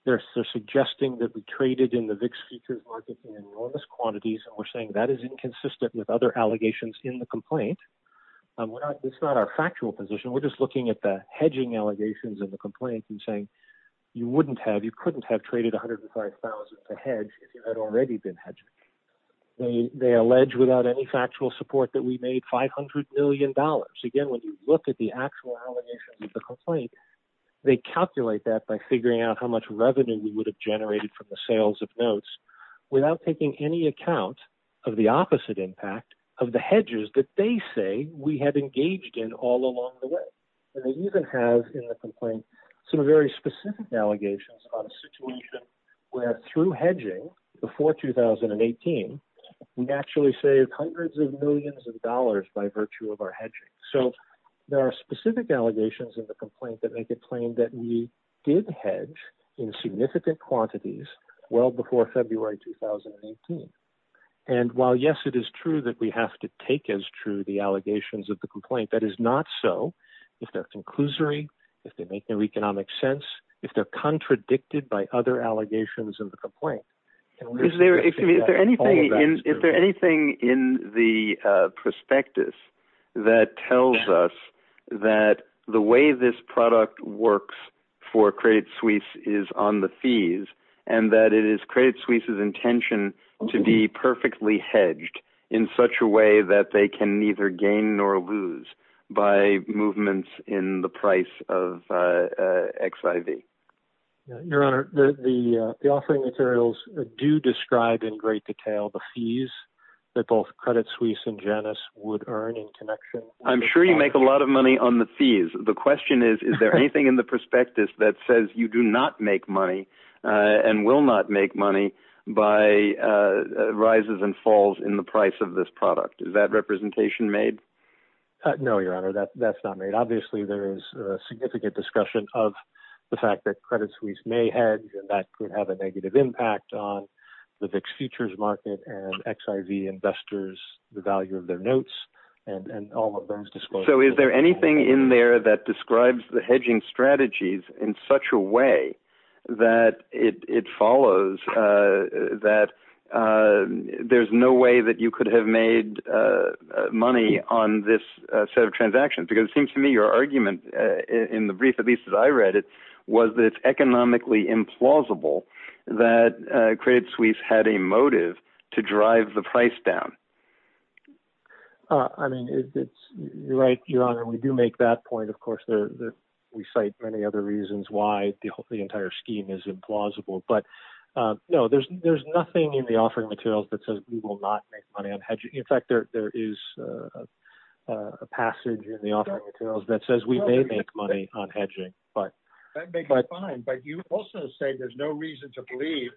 they're suggesting that we traded in the VIX futures market in enormous quantities, and we're saying that is inconsistent with other allegations in the complaint. It's not our factual position. We're just looking at the hedging allegations in the complaint and saying, you couldn't have traded $105,000 to hedge if you had already been hedging. They allege without any factual support that we made $500 million. Again, when you look at the actual allegations of the complaint, they calculate that by figuring out how much revenue we would generate from the sales of notes without taking any account of the opposite impact of the hedges that they say we had engaged in all along the way. They even have in the complaint some very specific allegations on a situation where through hedging before 2018, we actually saved hundreds of millions of dollars by virtue of our hedging. There are specific allegations in the complaint that we did hedge in significant quantities well before February 2018. While yes, it is true that we have to take as true the allegations of the complaint, that is not so if they're conclusory, if they make no economic sense, if they're contradicted by other allegations of the complaint. Is there anything in the prospectus that tells us that the way this product works for Credit Suisse is on the fees and that it is Credit Suisse's intention to be perfectly hedged in such a way that they can neither gain nor lose by movements in the price of XIV? Your Honor, the offering materials do describe in great detail the fees that both Credit Suisse and Janus would earn in connection. I'm sure you make a lot of money on the fees. The question is, is there anything in the prospectus that says you do not make money and will not make money by rises and falls in the price of this product? Is that representation made? No, Your Honor, that's not made. Obviously, there is a significant discussion of the fact that Credit Suisse may hedge and that could have a negative impact on the fixed futures market and XIV investors, the value of their notes and all of those disclosures. Is there anything in there that describes the hedging strategies in such a way that it follows that there's no way that you could have made money on this set of transactions? It seems to me your argument in the brief that I read was that it's economically implausible that Credit Suisse had motive to drive the price down. Your Honor, we do make that point. Of course, we cite many other reasons why the entire scheme is implausible. There's nothing in the offering materials that says we will not make money on hedging. In fact, there is a passage in the offering materials that says we may make money on hedging. You also say there's no reason to believe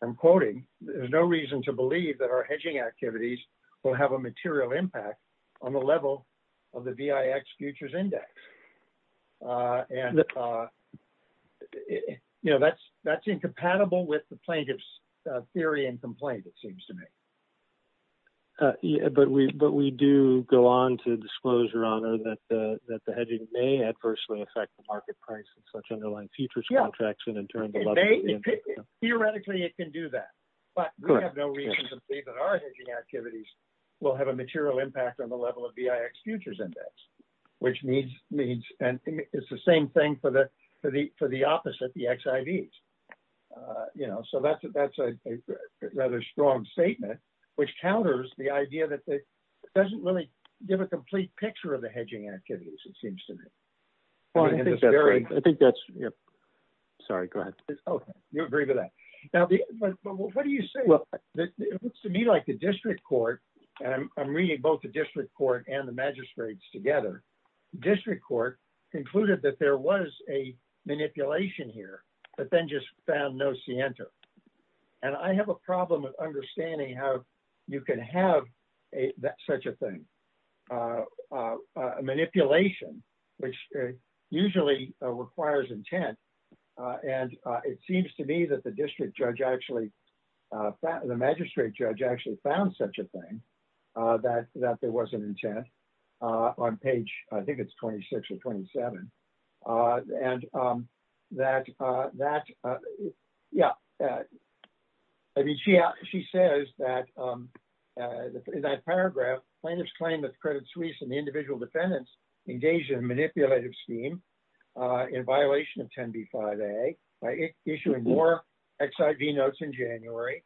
there's no reason to believe that our hedging activities will have a material impact on the level of the VIX futures index. And that's incompatible with the plaintiff's theory and complaint, it seems to me. But we do go on to disclose, Your Honor, that the hedging may adversely affect the market price of such underlying futures contracts. Theoretically, theoretically, it can do that. But we have no reason to believe that our hedging activities will have a material impact on the level of VIX futures index. It's the same thing for the opposite, the XIVs. So that's a rather strong statement, which counters the idea that it doesn't really give a complete picture of the hedging activities, it seems to me. Well, I think that's, sorry, go ahead. Okay, you agree with that. Now, what do you say? It looks to me like the district court, and I'm reading both the district court and the magistrates together, district court concluded that there was a manipulation here, but then just found no scienter. And I have a problem with understanding how you can have such a thing, a manipulation, which usually requires intent. And it seems to me that the district judge actually, the magistrate judge actually found such a thing, that there was an intent on page, I think it's 26 or 27. And that, yeah, she says that in that paragraph, plaintiffs claim that the Credit Suisse and the individual defendants engaged in a manipulative scheme in violation of 10b-5a, issuing more XIV notes in January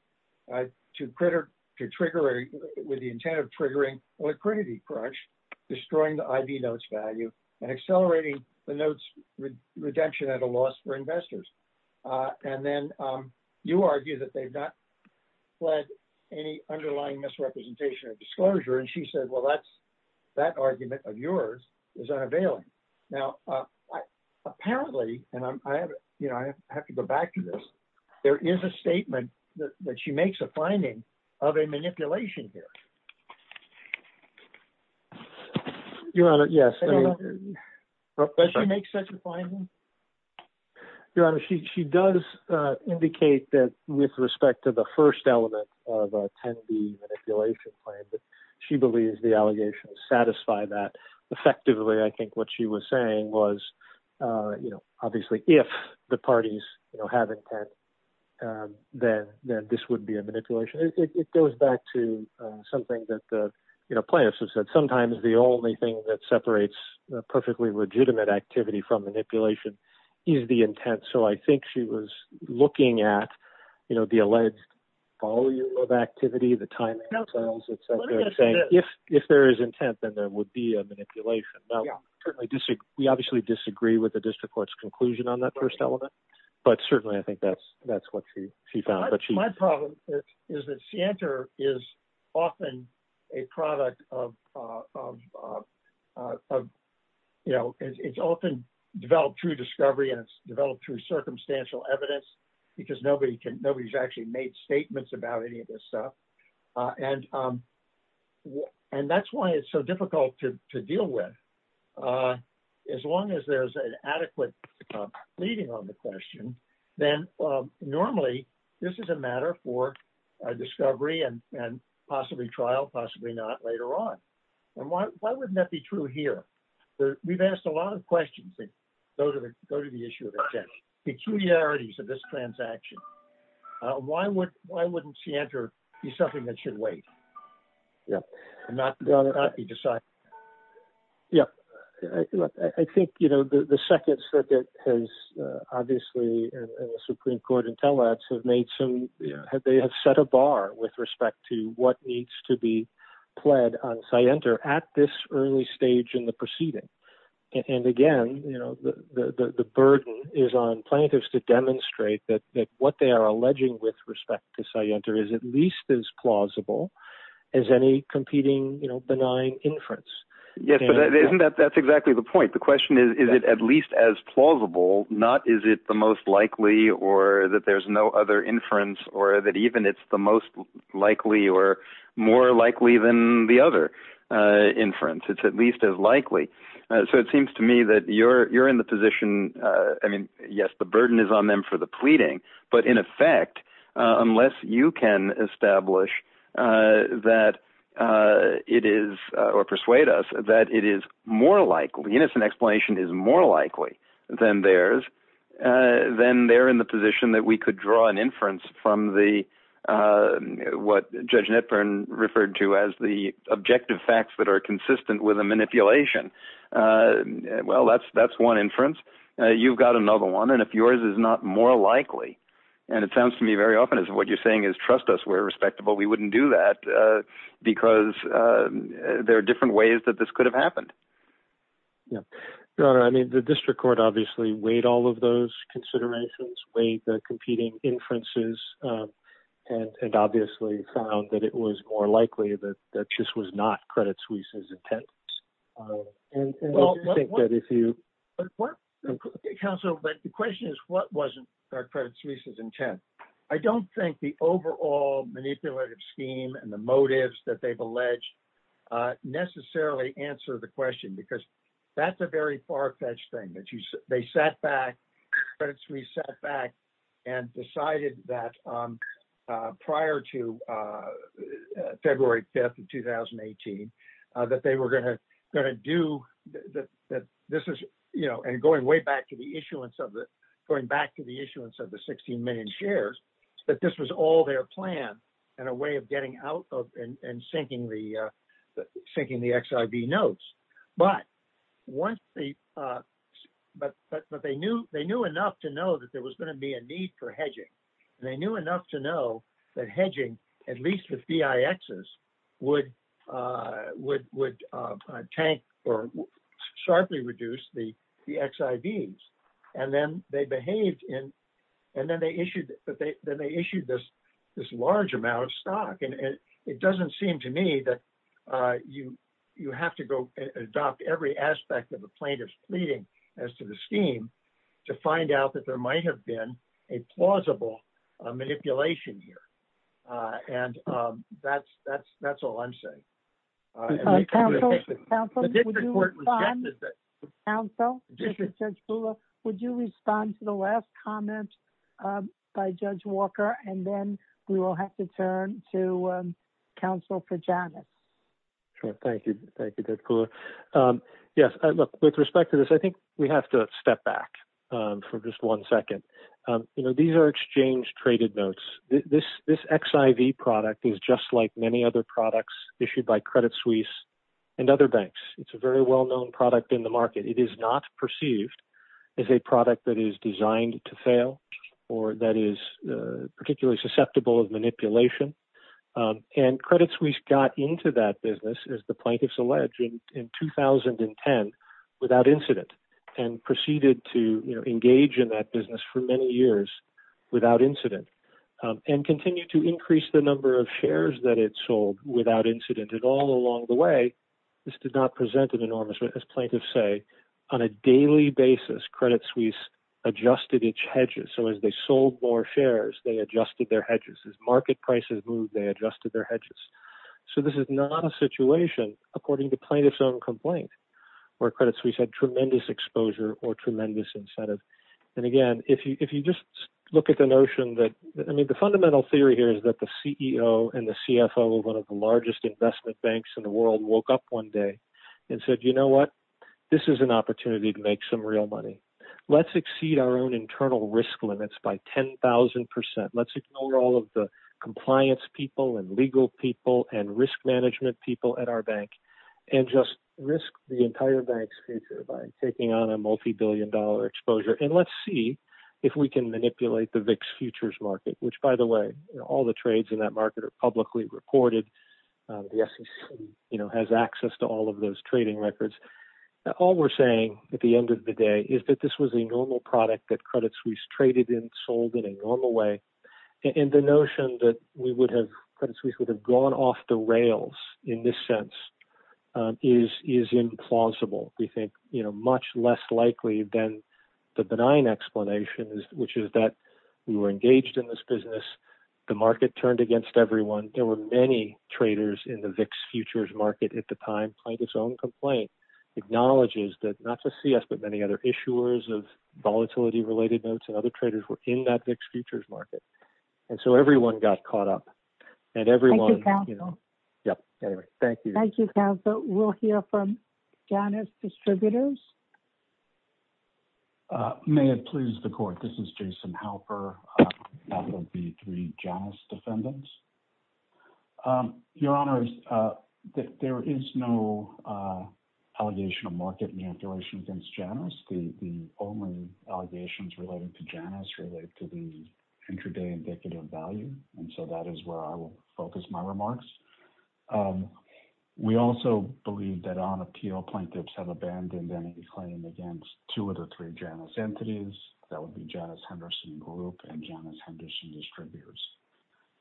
to trigger, with the intent of triggering liquidity crunch, destroying the IV notes value and accelerating the notes redemption at a loss for investors. And then you argue that they've not fled any underlying misrepresentation or that argument of yours is unavailable. Now, apparently, and I have to go back to this, there is a statement that she makes a finding of a manipulation here. Your Honor, yes. Does she make such a finding? Your Honor, she does indicate that with respect to the first element of a 10b manipulation claim, she believes the allegations satisfy that. Effectively, I think what she was saying was, obviously, if the parties have intent, then this would be a manipulation. It goes back to something that plaintiffs have said, sometimes the only thing that separates perfectly legitimate activity from manipulation is the intent. So I think she was looking at the alleged volume of activity, the time itself. If there is intent, then there would be a manipulation. We obviously disagree with the district court's conclusion on that first element, but certainly, I think that's what she found. My problem is that Santor is often a product of, it's often developed through discovery and it's developed through circumstantial evidence because nobody's actually made statements about any of this stuff. And that's why it's so difficult to deal with. As long as there's an adequate leading on the question, then normally, this is a matter for discovery and possibly trial, possibly not, later on. Why wouldn't that be true here? We've asked a lot of questions that go to the issue of intent, peculiarities of this transaction. Why wouldn't Santor be something that should wait and not be decided? Yeah. I think the second circuit has, obviously, in the Supreme Court and tell us, they have set a bar with respect to what needs to be on Santor at this early stage in the proceeding. And again, the burden is on plaintiffs to demonstrate that what they are alleging with respect to Santor is at least as plausible as any competing benign inference. Yes, but that's exactly the point. The question is, is it at least as plausible, not is it the most likely or that there's no other inference or that it's the most likely or more likely than the other inference? It's at least as likely. So it seems to me that you're in the position, I mean, yes, the burden is on them for the pleading, but in effect, unless you can establish that it is or persuade us that it is more likely, the innocent explanation is more likely than theirs, then they're in the position that we could draw an inference from what Judge Netburn referred to as the objective facts that are consistent with a manipulation. Well, that's one inference. You've got another one. And if yours is not more likely, and it sounds to me very often as what you're saying is, trust us, we're respectable. We wouldn't do that because there are different ways that this could have happened. Yeah. No, I mean, the district court obviously weighed all of those considerations, weighed the competing inferences, and obviously found that it was more likely that that just was not Credit Suisse's intent. Counsel, but the question is, what wasn't Credit Suisse's intent? I don't think the overall manipulative scheme and the motives that they've alleged necessarily answer the question because that's a very far-fetched thing that they sat back, Credit Suisse sat back and decided that prior to February 5th of 2018, that they were going to do that. This is, you know, and going way back to the issuance of it, going back to the issuance of the 16 million shares, that this was all their plan and a way of getting out of and sinking the XIV notes. But they knew enough to know that there was going to be a need for hedging, and they knew enough to know that hedging, at least with BIXs, would tank or sharply reduce the XIVs. And then they issued this large amount of stock. And it doesn't seem to me that you have to go and adopt every aspect of the plaintiff's pleading as to the scheme to find out that there might have been a plausible manipulation here. And that's all I'm saying. Counsel, would you respond to the last comment by Judge Walker? And then we will have to turn to for Jonathan. Sure. Thank you. Thank you, Judge Kula. Yes, look, with respect to this, I think we have to step back for just one second. You know, these are exchange-traded notes. This XIV product is just like many other products issued by Credit Suisse and other banks. It's a very well-known product in the market. It is not perceived as a product that is designed to fail or that is particularly susceptible of manipulation. And Credit Suisse got into that business, as the plaintiffs alleged, in 2010 without incident and proceeded to engage in that business for many years without incident and continue to increase the number of shares that it sold without incident. And all along the way, this did not present an enormous, as plaintiffs say, on a daily basis, Credit Suisse adjusted its hedges. So as they sold more shares, they adjusted their hedges. As market prices moved, they adjusted their hedges. So this is not a situation, according to plaintiffs' own complaint, where Credit Suisse had tremendous exposure or tremendous incentive. And again, if you just look at the notion that, I mean, the fundamental theory here is that the CEO and the CFO of one of the largest investment banks in the world woke up one day and said, you know what? This is an opportunity to make some real money. Let's exceed our own internal risk limits by 10,000%. Let's ignore all of the compliance people and legal people and risk management people at our bank and just risk the entire bank's future by taking on a multi-billion dollar exposure. And let's see if we can manipulate the VIX futures market, which by the way, all the trades in that market are the SEC has access to all of those trading records. All we're saying at the end of the day is that this was a normal product that Credit Suisse traded in, sold in a normal way. And the notion that Credit Suisse would have gone off the rails in this sense is implausible. We think much less likely than the benign explanation, which is that we were engaged in this in the VIX futures market at the time. Plankett's own complaint acknowledges that not just CS, but many other issuers of volatility-related notes and other traders were in that VIX futures market. And so everyone got caught up and everyone- Thank you, counsel. Thank you, counsel. We'll hear from Janice Distributors. May it please the court. This is Jason Halper. That will be three Janice Defendants. Your Honors, there is no allegation of market manipulation against Janice. The only allegations related to Janice are related to the intraday indicative value. And so that is where I will focus my remarks. We also believe that on appeal, plaintiffs have abandoned any claim against two of the three Janice entities. That would be Janice Henderson Group and Janice Henderson Distributors.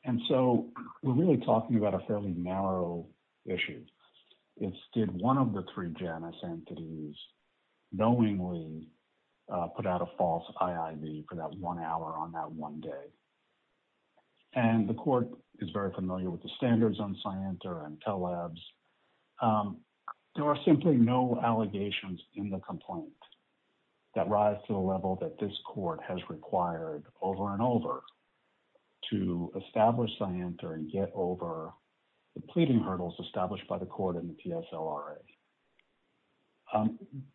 And so we're really talking about a fairly narrow issue. It's did one of the three Janice entities knowingly put out a false IIV for that one hour on that one day. And the court is very familiar with the standards on Scienter and Pell Labs. There are simply no allegations in the complaint that rise to the level that this court has to establish Scienter and get over the pleading hurdles established by the court and the PSLRA.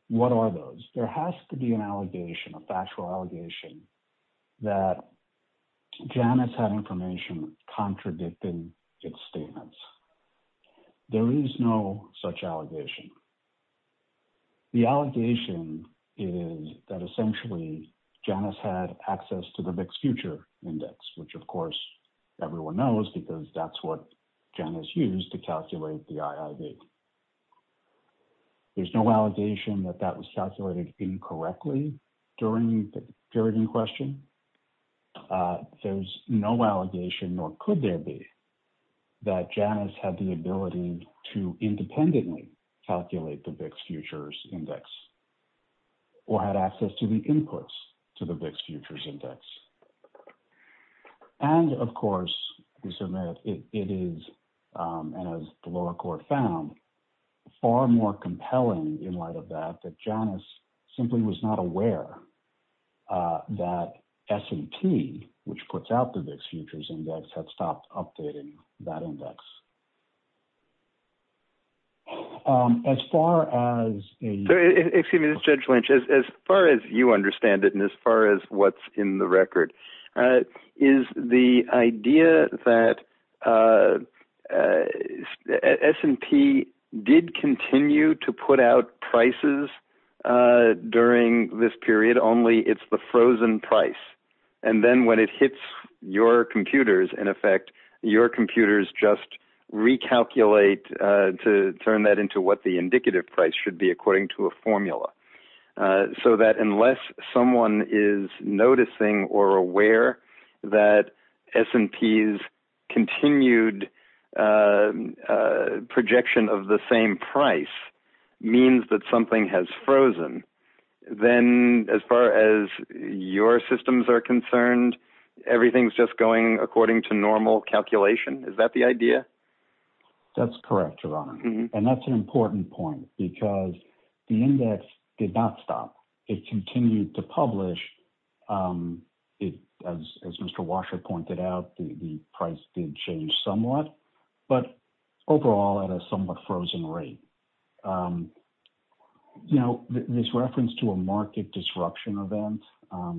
What are those? There has to be an allegation, a factual allegation, that Janice had information contradicting its statements. There is no such allegation. The allegation is that essentially Janice had access to the Mixed Future Index, which of course everyone knows because that's what Janice used to calculate the IIV. There's no allegation that that was calculated incorrectly during the period in question. There's no allegation, nor could there be, that Janice had the ability to independently calculate the Mixed Futures Index or had access to the inputs to the Mixed Futures Index. And of course, we submit it is, and as the lower court found, far more compelling in light of that, that Janice simply was not aware that S&T, which puts out the Mixed Futures Index, had stopped updating that index. As far as... Excuse me, Judge Lynch, as far as you understand it and as far as what's in the record, is the idea that S&T did continue to put out prices during this period, only it's the frozen price. And then when it hits your computers, in effect, your computers just recalculate to turn that into what the indicative price should be according to a formula. So that unless someone is noticing or aware that S&T's continued projection of the same price means that something has frozen, then as far as your systems are concerned, everything's just going according to normal calculation. Is that the idea? That's correct, Ron. And that's an important point because the index did not stop. It continued to publish. As Mr. Washer pointed out, the price did change somewhat, but overall at a somewhat frozen rate. You know, this reference to a market disruption event,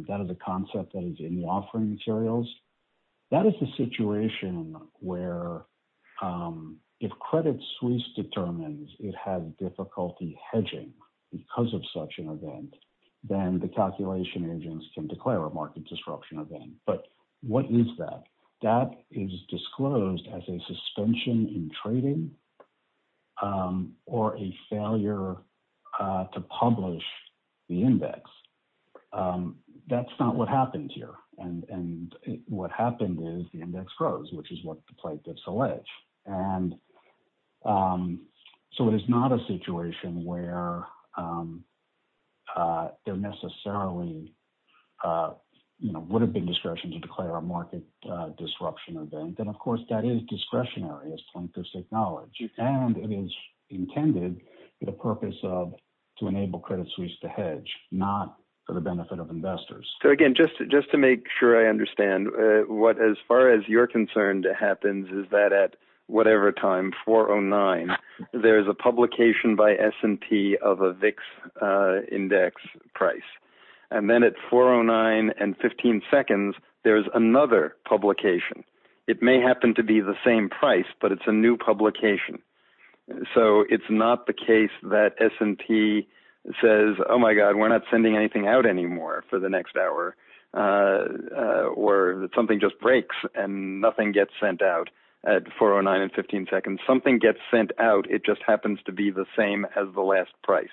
that is a concept that is in the offering materials, that is the situation where if Credit Suisse determines it had difficulty hedging because of such an event, then the calculation engines can market disruption event. But what is that? That is disclosed as a suspension in trading or a failure to publish the index. That's not what happened here. And what happened is the would have been discretion to declare a market disruption event. And of course, that is discretionary, as Tom just acknowledged. And it is intended for the purpose of to enable Credit Suisse to hedge, not for the benefit of investors. So again, just to make sure I understand, as far as you're concerned, it happens is that at whatever time, 4.09, there's a publication by S&P of a VIX index price. And then at 4.09 and 15 seconds, there's another publication. It may happen to be the same price, but it's a new publication. So it's not the case that S&P says, oh my God, we're not sending anything out anymore for the next hour. Or something just breaks and nothing gets sent out at 4.09 and 15 seconds. Something gets sent out. It just happens to be the same as the last price.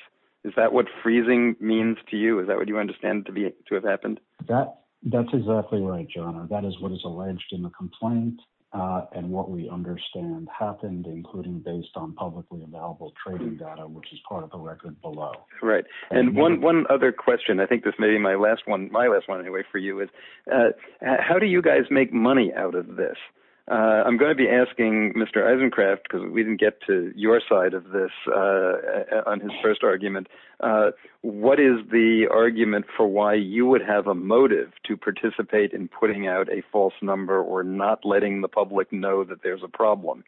Is that what freezing means to you? Is that what you understand to have happened? That's exactly right, John. That is what is alleged in the complaint. And what we understand happened, including based on publicly available trading data, which is part of the record below. Right. And one other question, I think this may be my last one, my last one anyway for you is, how do you guys make money out of this? I'm going to be asking Mr. Eisencraft, because we didn't get to your side of this on his first argument. What is the argument for why you would have a motive to participate in putting out a false number or not letting the public know that there's a problem?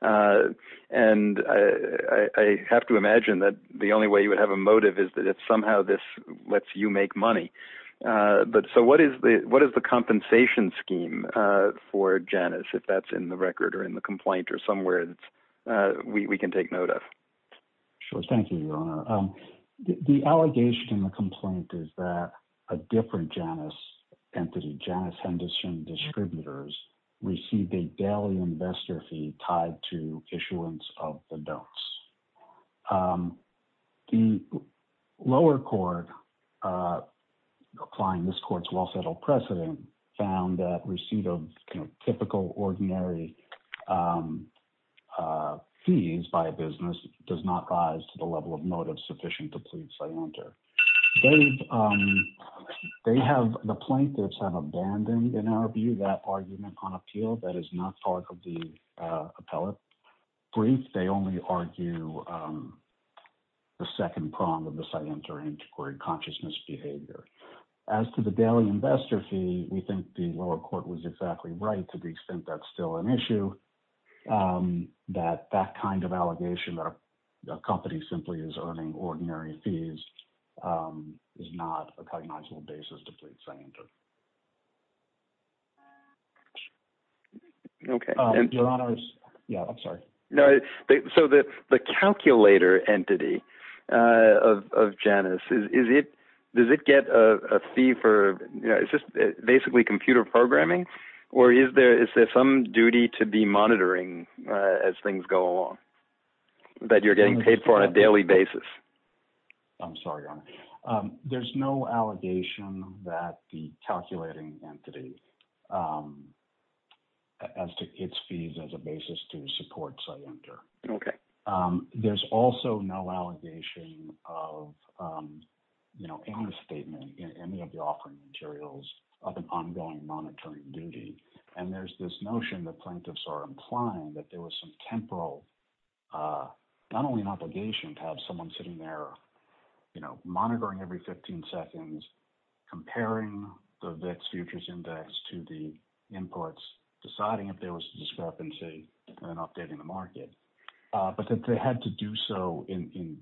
And I have to imagine that the only way you would have a motive is that if somehow this lets you make money. So what is the compensation scheme for Janus, if that's in the record or in the complaint or somewhere that we can take note of? Sure. Thank you, Your Honor. The allegation in the complaint is that a different Janus entity, Janus Henderson Distributors, received a daily investor fee tied to issuance of the notes. The lower court, applying this court's well-settled precedent, found that receipt of typical ordinary fees by a business does not rise to the level of motive sufficient to please a lender. They have, the plaintiffs have abandoned, in our view, that argument on appeal. That is not part of the appellate brief. They only argue the second prong of the scientific and integrated consciousness behavior. As to the daily investor fee, we think the lower court was exactly right to the extent that's still an issue, that that kind of allegation that a company simply is earning ordinary fees is not a cognizable basis to plead scientific. Okay. Your Honor, I'm sorry. So the calculator entity of Janus, does it get a fee for, it's just basically computer programming, or is there some duty to be monitoring as things go along that you're getting paid for on a daily basis? I'm sorry, Your Honor. There's no allegation that the calculating entity adds to its fees as a basis to the supports I enter. Okay. There's also no allegation of any statement in any of the offering materials of an ongoing non-attorney duty. And there's this notion that plaintiffs are inclined that there was some temporal, not only an obligation to have someone sitting there monitoring every 15 seconds, comparing the VIX futures index to the inputs, deciding if there was a discrepancy in updating the market, but that they had to do so in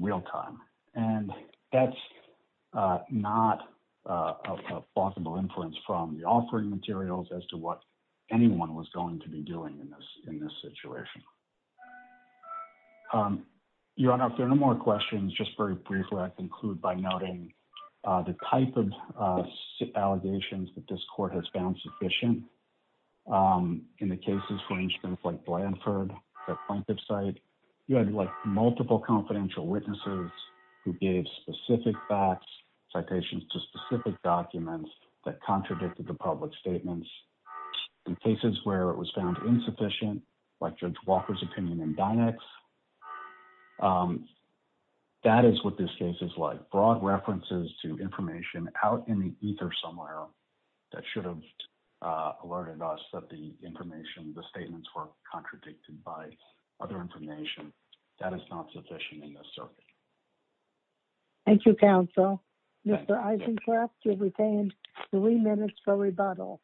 real time. And that's not a possible influence from the offering materials as to what anyone was going to be doing in this situation. Your Honor, if there are no more questions, just very briefly, I conclude by noting the type of allegations that this court has found sufficient. In the cases, for instance, like Blanford, a plaintiff's site, you had like multiple confidential witnesses who gave specific facts, citations to specific documents that contradicted the public statements. In cases where it was found insufficient, like Judge Walker's opinion in Donex, that is what this case is like. Broad references to information out in ether somewhere that should have alerted us that the information, the statements were contradicted by other information, that is not sufficient in this circuit. Thank you, counsel. Mr. Eisencraft, you have retained three minutes for rebuttal.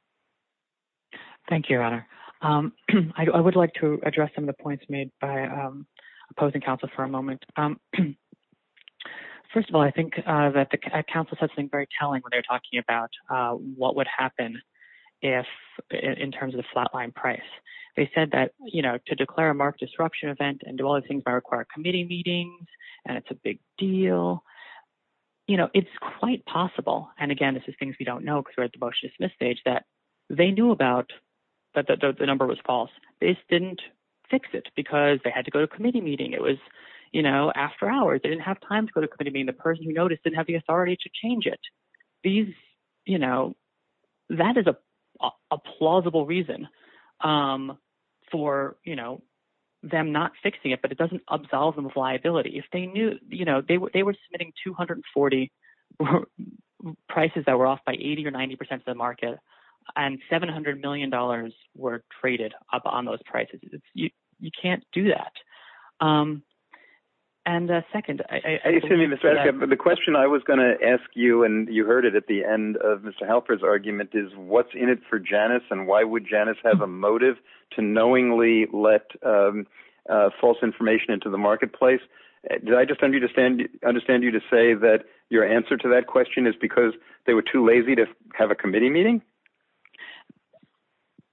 Thank you, Your Honor. I would like to address some of the points made by opposing counsel for a moment. First of all, I think that the counsel said something very telling when they're talking about what would happen in terms of the flatline price. They said that, you know, to declare a marked disruption event and do all those things by required committee meetings, and it's a big deal, you know, it's quite possible. And again, this is things we don't know because we're at the motion-to-dismiss stage that they knew about that the number was false. They just didn't fix it because they had to go to committee meeting. It was, you know, after hours. They didn't have time to go to committee meeting. The person who noticed didn't have the authority to change it. These, you know, that is a plausible reason for, you know, them not fixing it, but it doesn't absolve them of liability. If they knew, you know, they were submitting 240 prices that were off by 80 or 90 percent of the market, and $700 million were traded up on those prices. You can't do that. And second, I... Excuse me, Mr. Eska, but the question I was going to ask you, and you heard it at the end of Mr. Halpern's argument, is what's in it for Janice, and why would Janice have a motive to knowingly let false information into the marketplace? Did I just understand you to say that your answer to that question is because they were too lazy to have a committee meeting?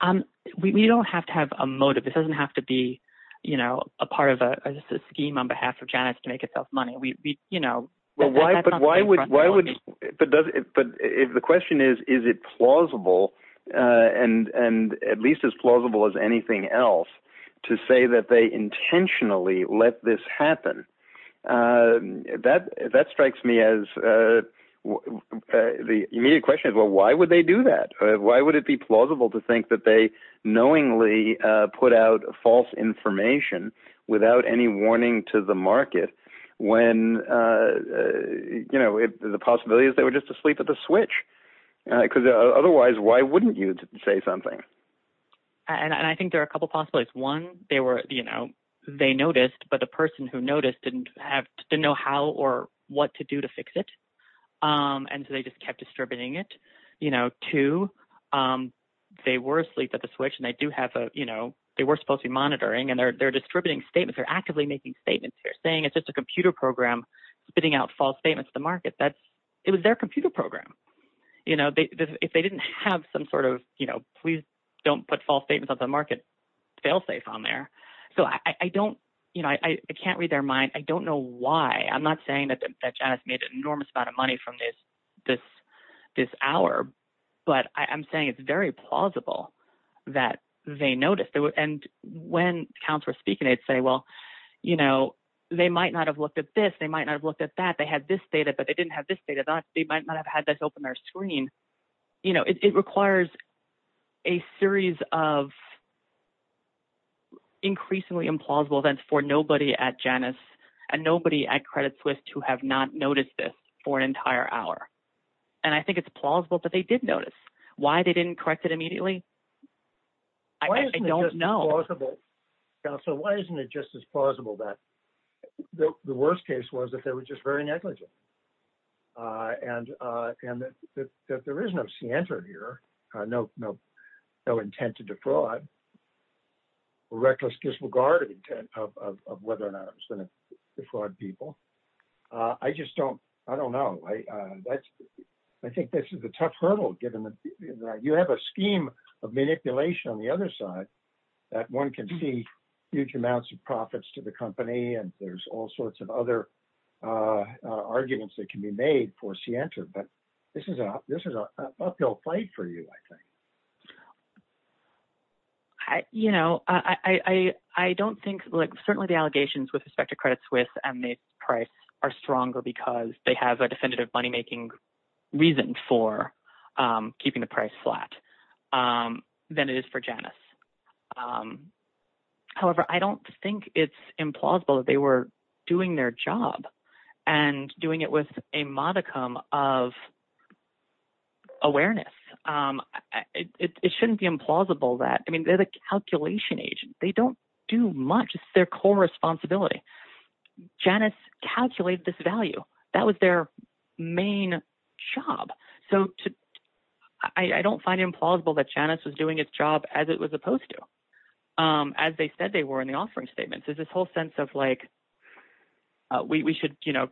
Um, we don't have to have a motive. It doesn't have to be, you know, a part of a scheme on behalf of Janice to make herself money. We, you know... Why would... But the question is, is it plausible, and at least as plausible as anything else, to say that they intentionally let this happen? That strikes me as... The immediate question is, well, why would they do that? Why would it be plausible to think that they knowingly put out false information without any warning to the market when, you know, the possibility is they were just asleep at the switch? Because otherwise, why wouldn't you say something? And I think there are a couple of possibilities. One, they were, you know, they noticed, but the person who noticed didn't have... didn't know how or what to do to fix it, and so they just kept distributing it. You know, two, they were asleep at the switch, and they do have a, you know, they were supposed to be monitoring, and they're distributing statements. They're actively making statements. They're saying it's just a computer program spitting out false statements to the market. That's... It was their computer program. You know, if they didn't have some sort of, you know, please don't put false statements on the market, they'll stay on there. So I don't, you know, I can't read their mind. I don't know why. I'm not saying that Janice made an enormous amount of money from this hour, but I'm saying it's very plausible that they noticed, and when counselors were speaking, they'd say, well, you know, they might not have looked at this. They might not have looked at that. They had this data, but they didn't have this data. They might not have had this open their screen. You know, it requires a series of increasingly implausible events for nobody at Janice and nobody at Credit Suisse to have not noticed this for an entire hour, and I think it's plausible that they did notice. Why they didn't correct it immediately, I don't know. So why isn't it just as plausible that the worst case was that they were just very negligent and that there is no scienter here, no intent to defraud, reckless disregard of intent of whether or not it was going to defraud people. I just don't, I don't know. I think this is a tough hurdle given that you have a scheme of manipulation on the other side that one can see huge amounts of profits to the company, and there's all sorts of other arguments that can be made for scienter, but this is an uphill fight for you, I think. I, you know, I don't think, like, certainly the allegations with respect to Credit Suisse and has a definitive money-making reason for keeping the price flat than it is for Janice. However, I don't think it's implausible they were doing their job and doing it with a modicum of awareness. It shouldn't be implausible that, I mean, they're the calculation agent. They don't do much. It's their core responsibility. Janice calculates this value. That was their main job. So, I don't find it implausible that Janice was doing its job as it was supposed to, as they said they were in the offering statements. There's this whole sense of, like, we should, you know,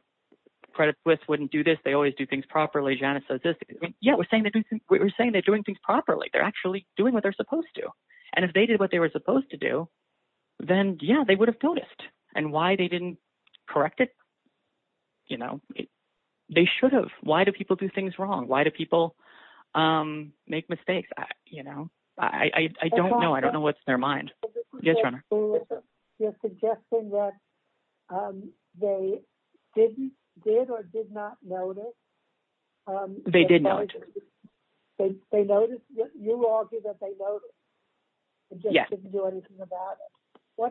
Credit Suisse wouldn't do this. They always do things properly. Janice does this. Yeah, we're saying they're doing things properly. They're actually doing what and if they did what they were supposed to do, then, yeah, they would have noticed and why they didn't correct it. You know, they should have. Why do people do things wrong? Why do people make mistakes? You know, I don't know. I don't know what's in their mind. Yes, ma'am. You're suggesting that they didn't, did or did not notice? They did notice. They noticed? You argue that they noticed. Yes. What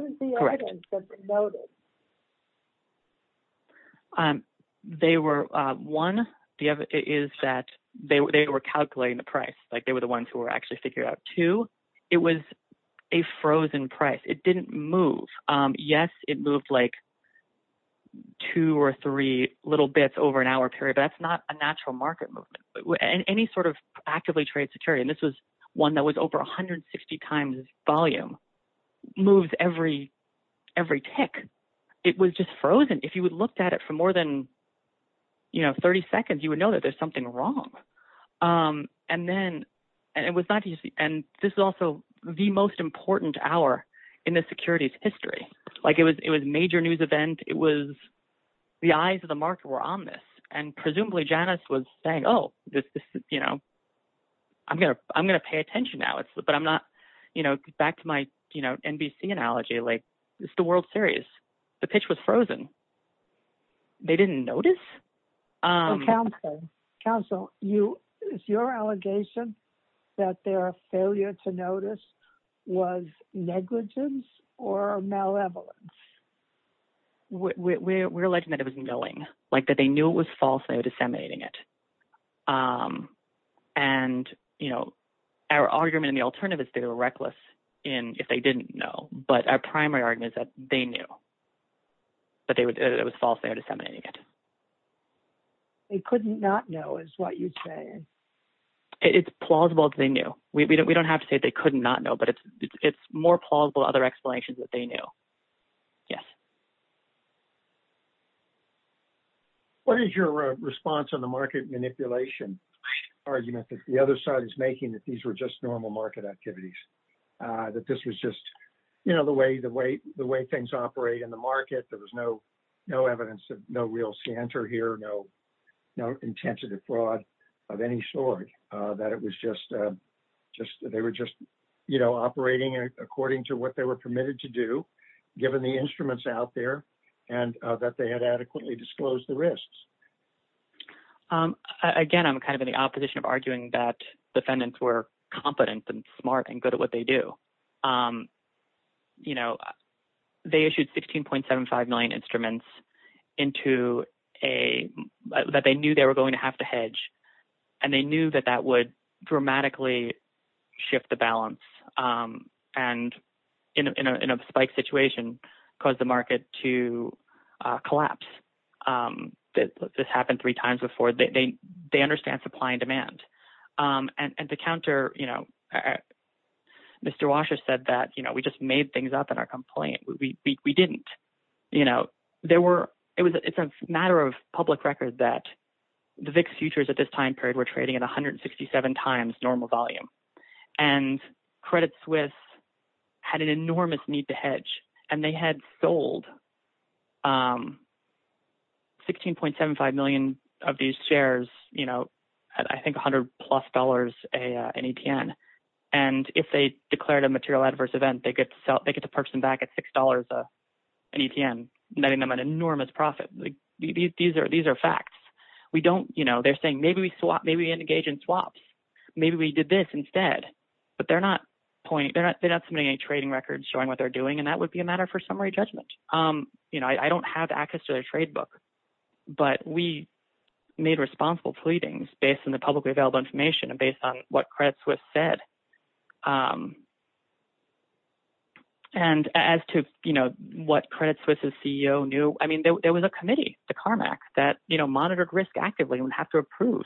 is the item that they noticed? They were, one, is that they were calculating the price. Like, they were the ones who were figuring out. Two, it was a frozen price. It didn't move. Yes, it moved, like, two or three little bits over an hour period, but that's not a natural market movement. Any sort of actively traded security, and this was one that was over 160 times volume, moves every tick. It was just frozen. If you had looked at it for more than, you know, 30 seconds, you would know that there's something wrong, and then it was not easy, and this is also the most important hour in the securities history. Like, it was a major news event. It was, the eyes of the market were on this, and presumably, Janice was saying, oh, this, you know, I'm going to pay attention now, but I'm not, you know, back to my, you know, NBC analogy, like, it's the World Series. The pitch was frozen. They didn't notice. Counsel, is your allegation that their failure to notice was negligence or malevolence? We're alleging that it was knowing, like, that they knew it was false. They were disseminating it, and, you know, our argument in the alternative is they were reckless in if they didn't know, but our primary argument is that they knew that it was false. They were disseminating it. They couldn't not know is what you say. It's plausible that they knew. We don't have to say they couldn't not know, but it's more plausible other explanations that they knew. Yes. What is your response on the market manipulation argument that the other side is making that these just normal market activities, that this was just, you know, the way things operate in the market, there was no evidence, no real scantor here, no intent to defraud of any sort, that it was just, you know, operating according to what they were permitted to do, given the instruments out there, and that they had adequately disclosed the risks? Again, I'm kind of in the opposition of arguing that defendants were competent and smart and good at what they do. You know, they issued 16.75 million instruments that they knew they were going to have to hedge, and they knew that that would dramatically shift the balance and, in a spike situation, cause the market to collapse. This happened three times before. They understand supply and demand. At the counter, you know, Mr. Washer said that, you know, we just made things up in our complaint. We didn't. You know, there were – it's a matter of public record that the VIX futures at this time period were trading at 167 times normal volume, and Credit Suisse had an enormous need to hedge, and they had sold 16.75 million of these shares, you know, at, I think, $100 plus an ETN, and if they declared a material adverse event, they get to purchase them back at $6 an ETN, netting them an enormous profit. These are facts. We don't – you know, they're saying, maybe we engaged in swaps. Maybe we did this instead, but they're not – they're not submitting any trading records showing what they're doing, and that would be a matter for summary judgment. You know, I don't have access to their trade book, but we made responsible pleadings based on the publicly available information and based on what Credit Suisse said. And as to, you know, what Credit Suisse's CEO knew, I mean, there was a committee, the CARMAC, that, you know, monitored risk actively and would approve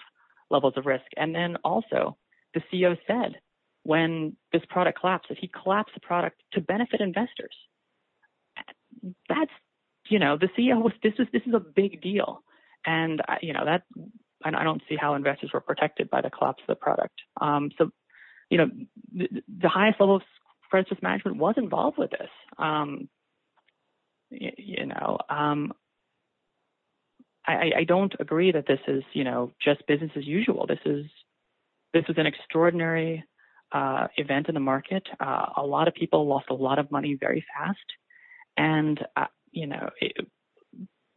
levels of risk, and then also, the CEO said, when this product collapsed, that he collapsed the product to benefit investors. That's, you know, the CEO was – this is a big deal, and, you know, that – and I don't see how investors were protected by the collapse of the product. So, you know, the highest level of credit management was involved with this, you know. So, I don't agree that this is, you know, just business as usual. This is – this is an extraordinary event in the market. A lot of people lost a lot of money very fast, and, you know,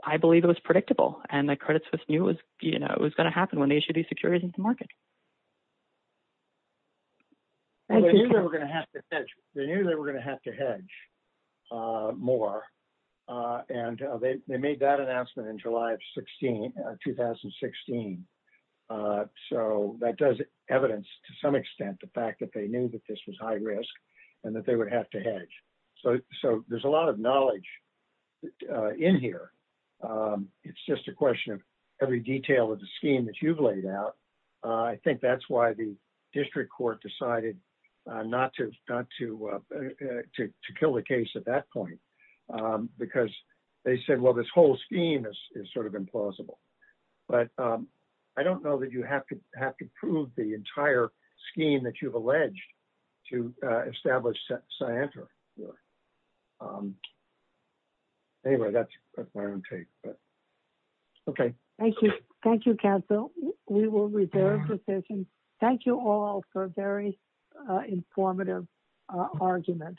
I believe it was predictable, and the Credit Suisse knew it was, you know, it was going to happen when they issued these securities in the market. And they knew they were going to have to hedge. They knew they were going to have to hedge more, and they made that announcement in July of 2016. So, that does evidence, to some extent, the fact that they knew that this was high risk and that they would have to hedge. So, there's a lot of knowledge in here. It's just a question of every detail of the scheme that you've laid out. I think that's why the district court decided not to kill the case at that point, because they said, well, this whole scheme is sort of implausible. But I don't know that you have to prove the entire scheme that you've alleged to establish scientifically. Anyway, that's my own take. Okay. Thank you. Thank you, Council. We will reserve positions. Thank you all for a very informative argument.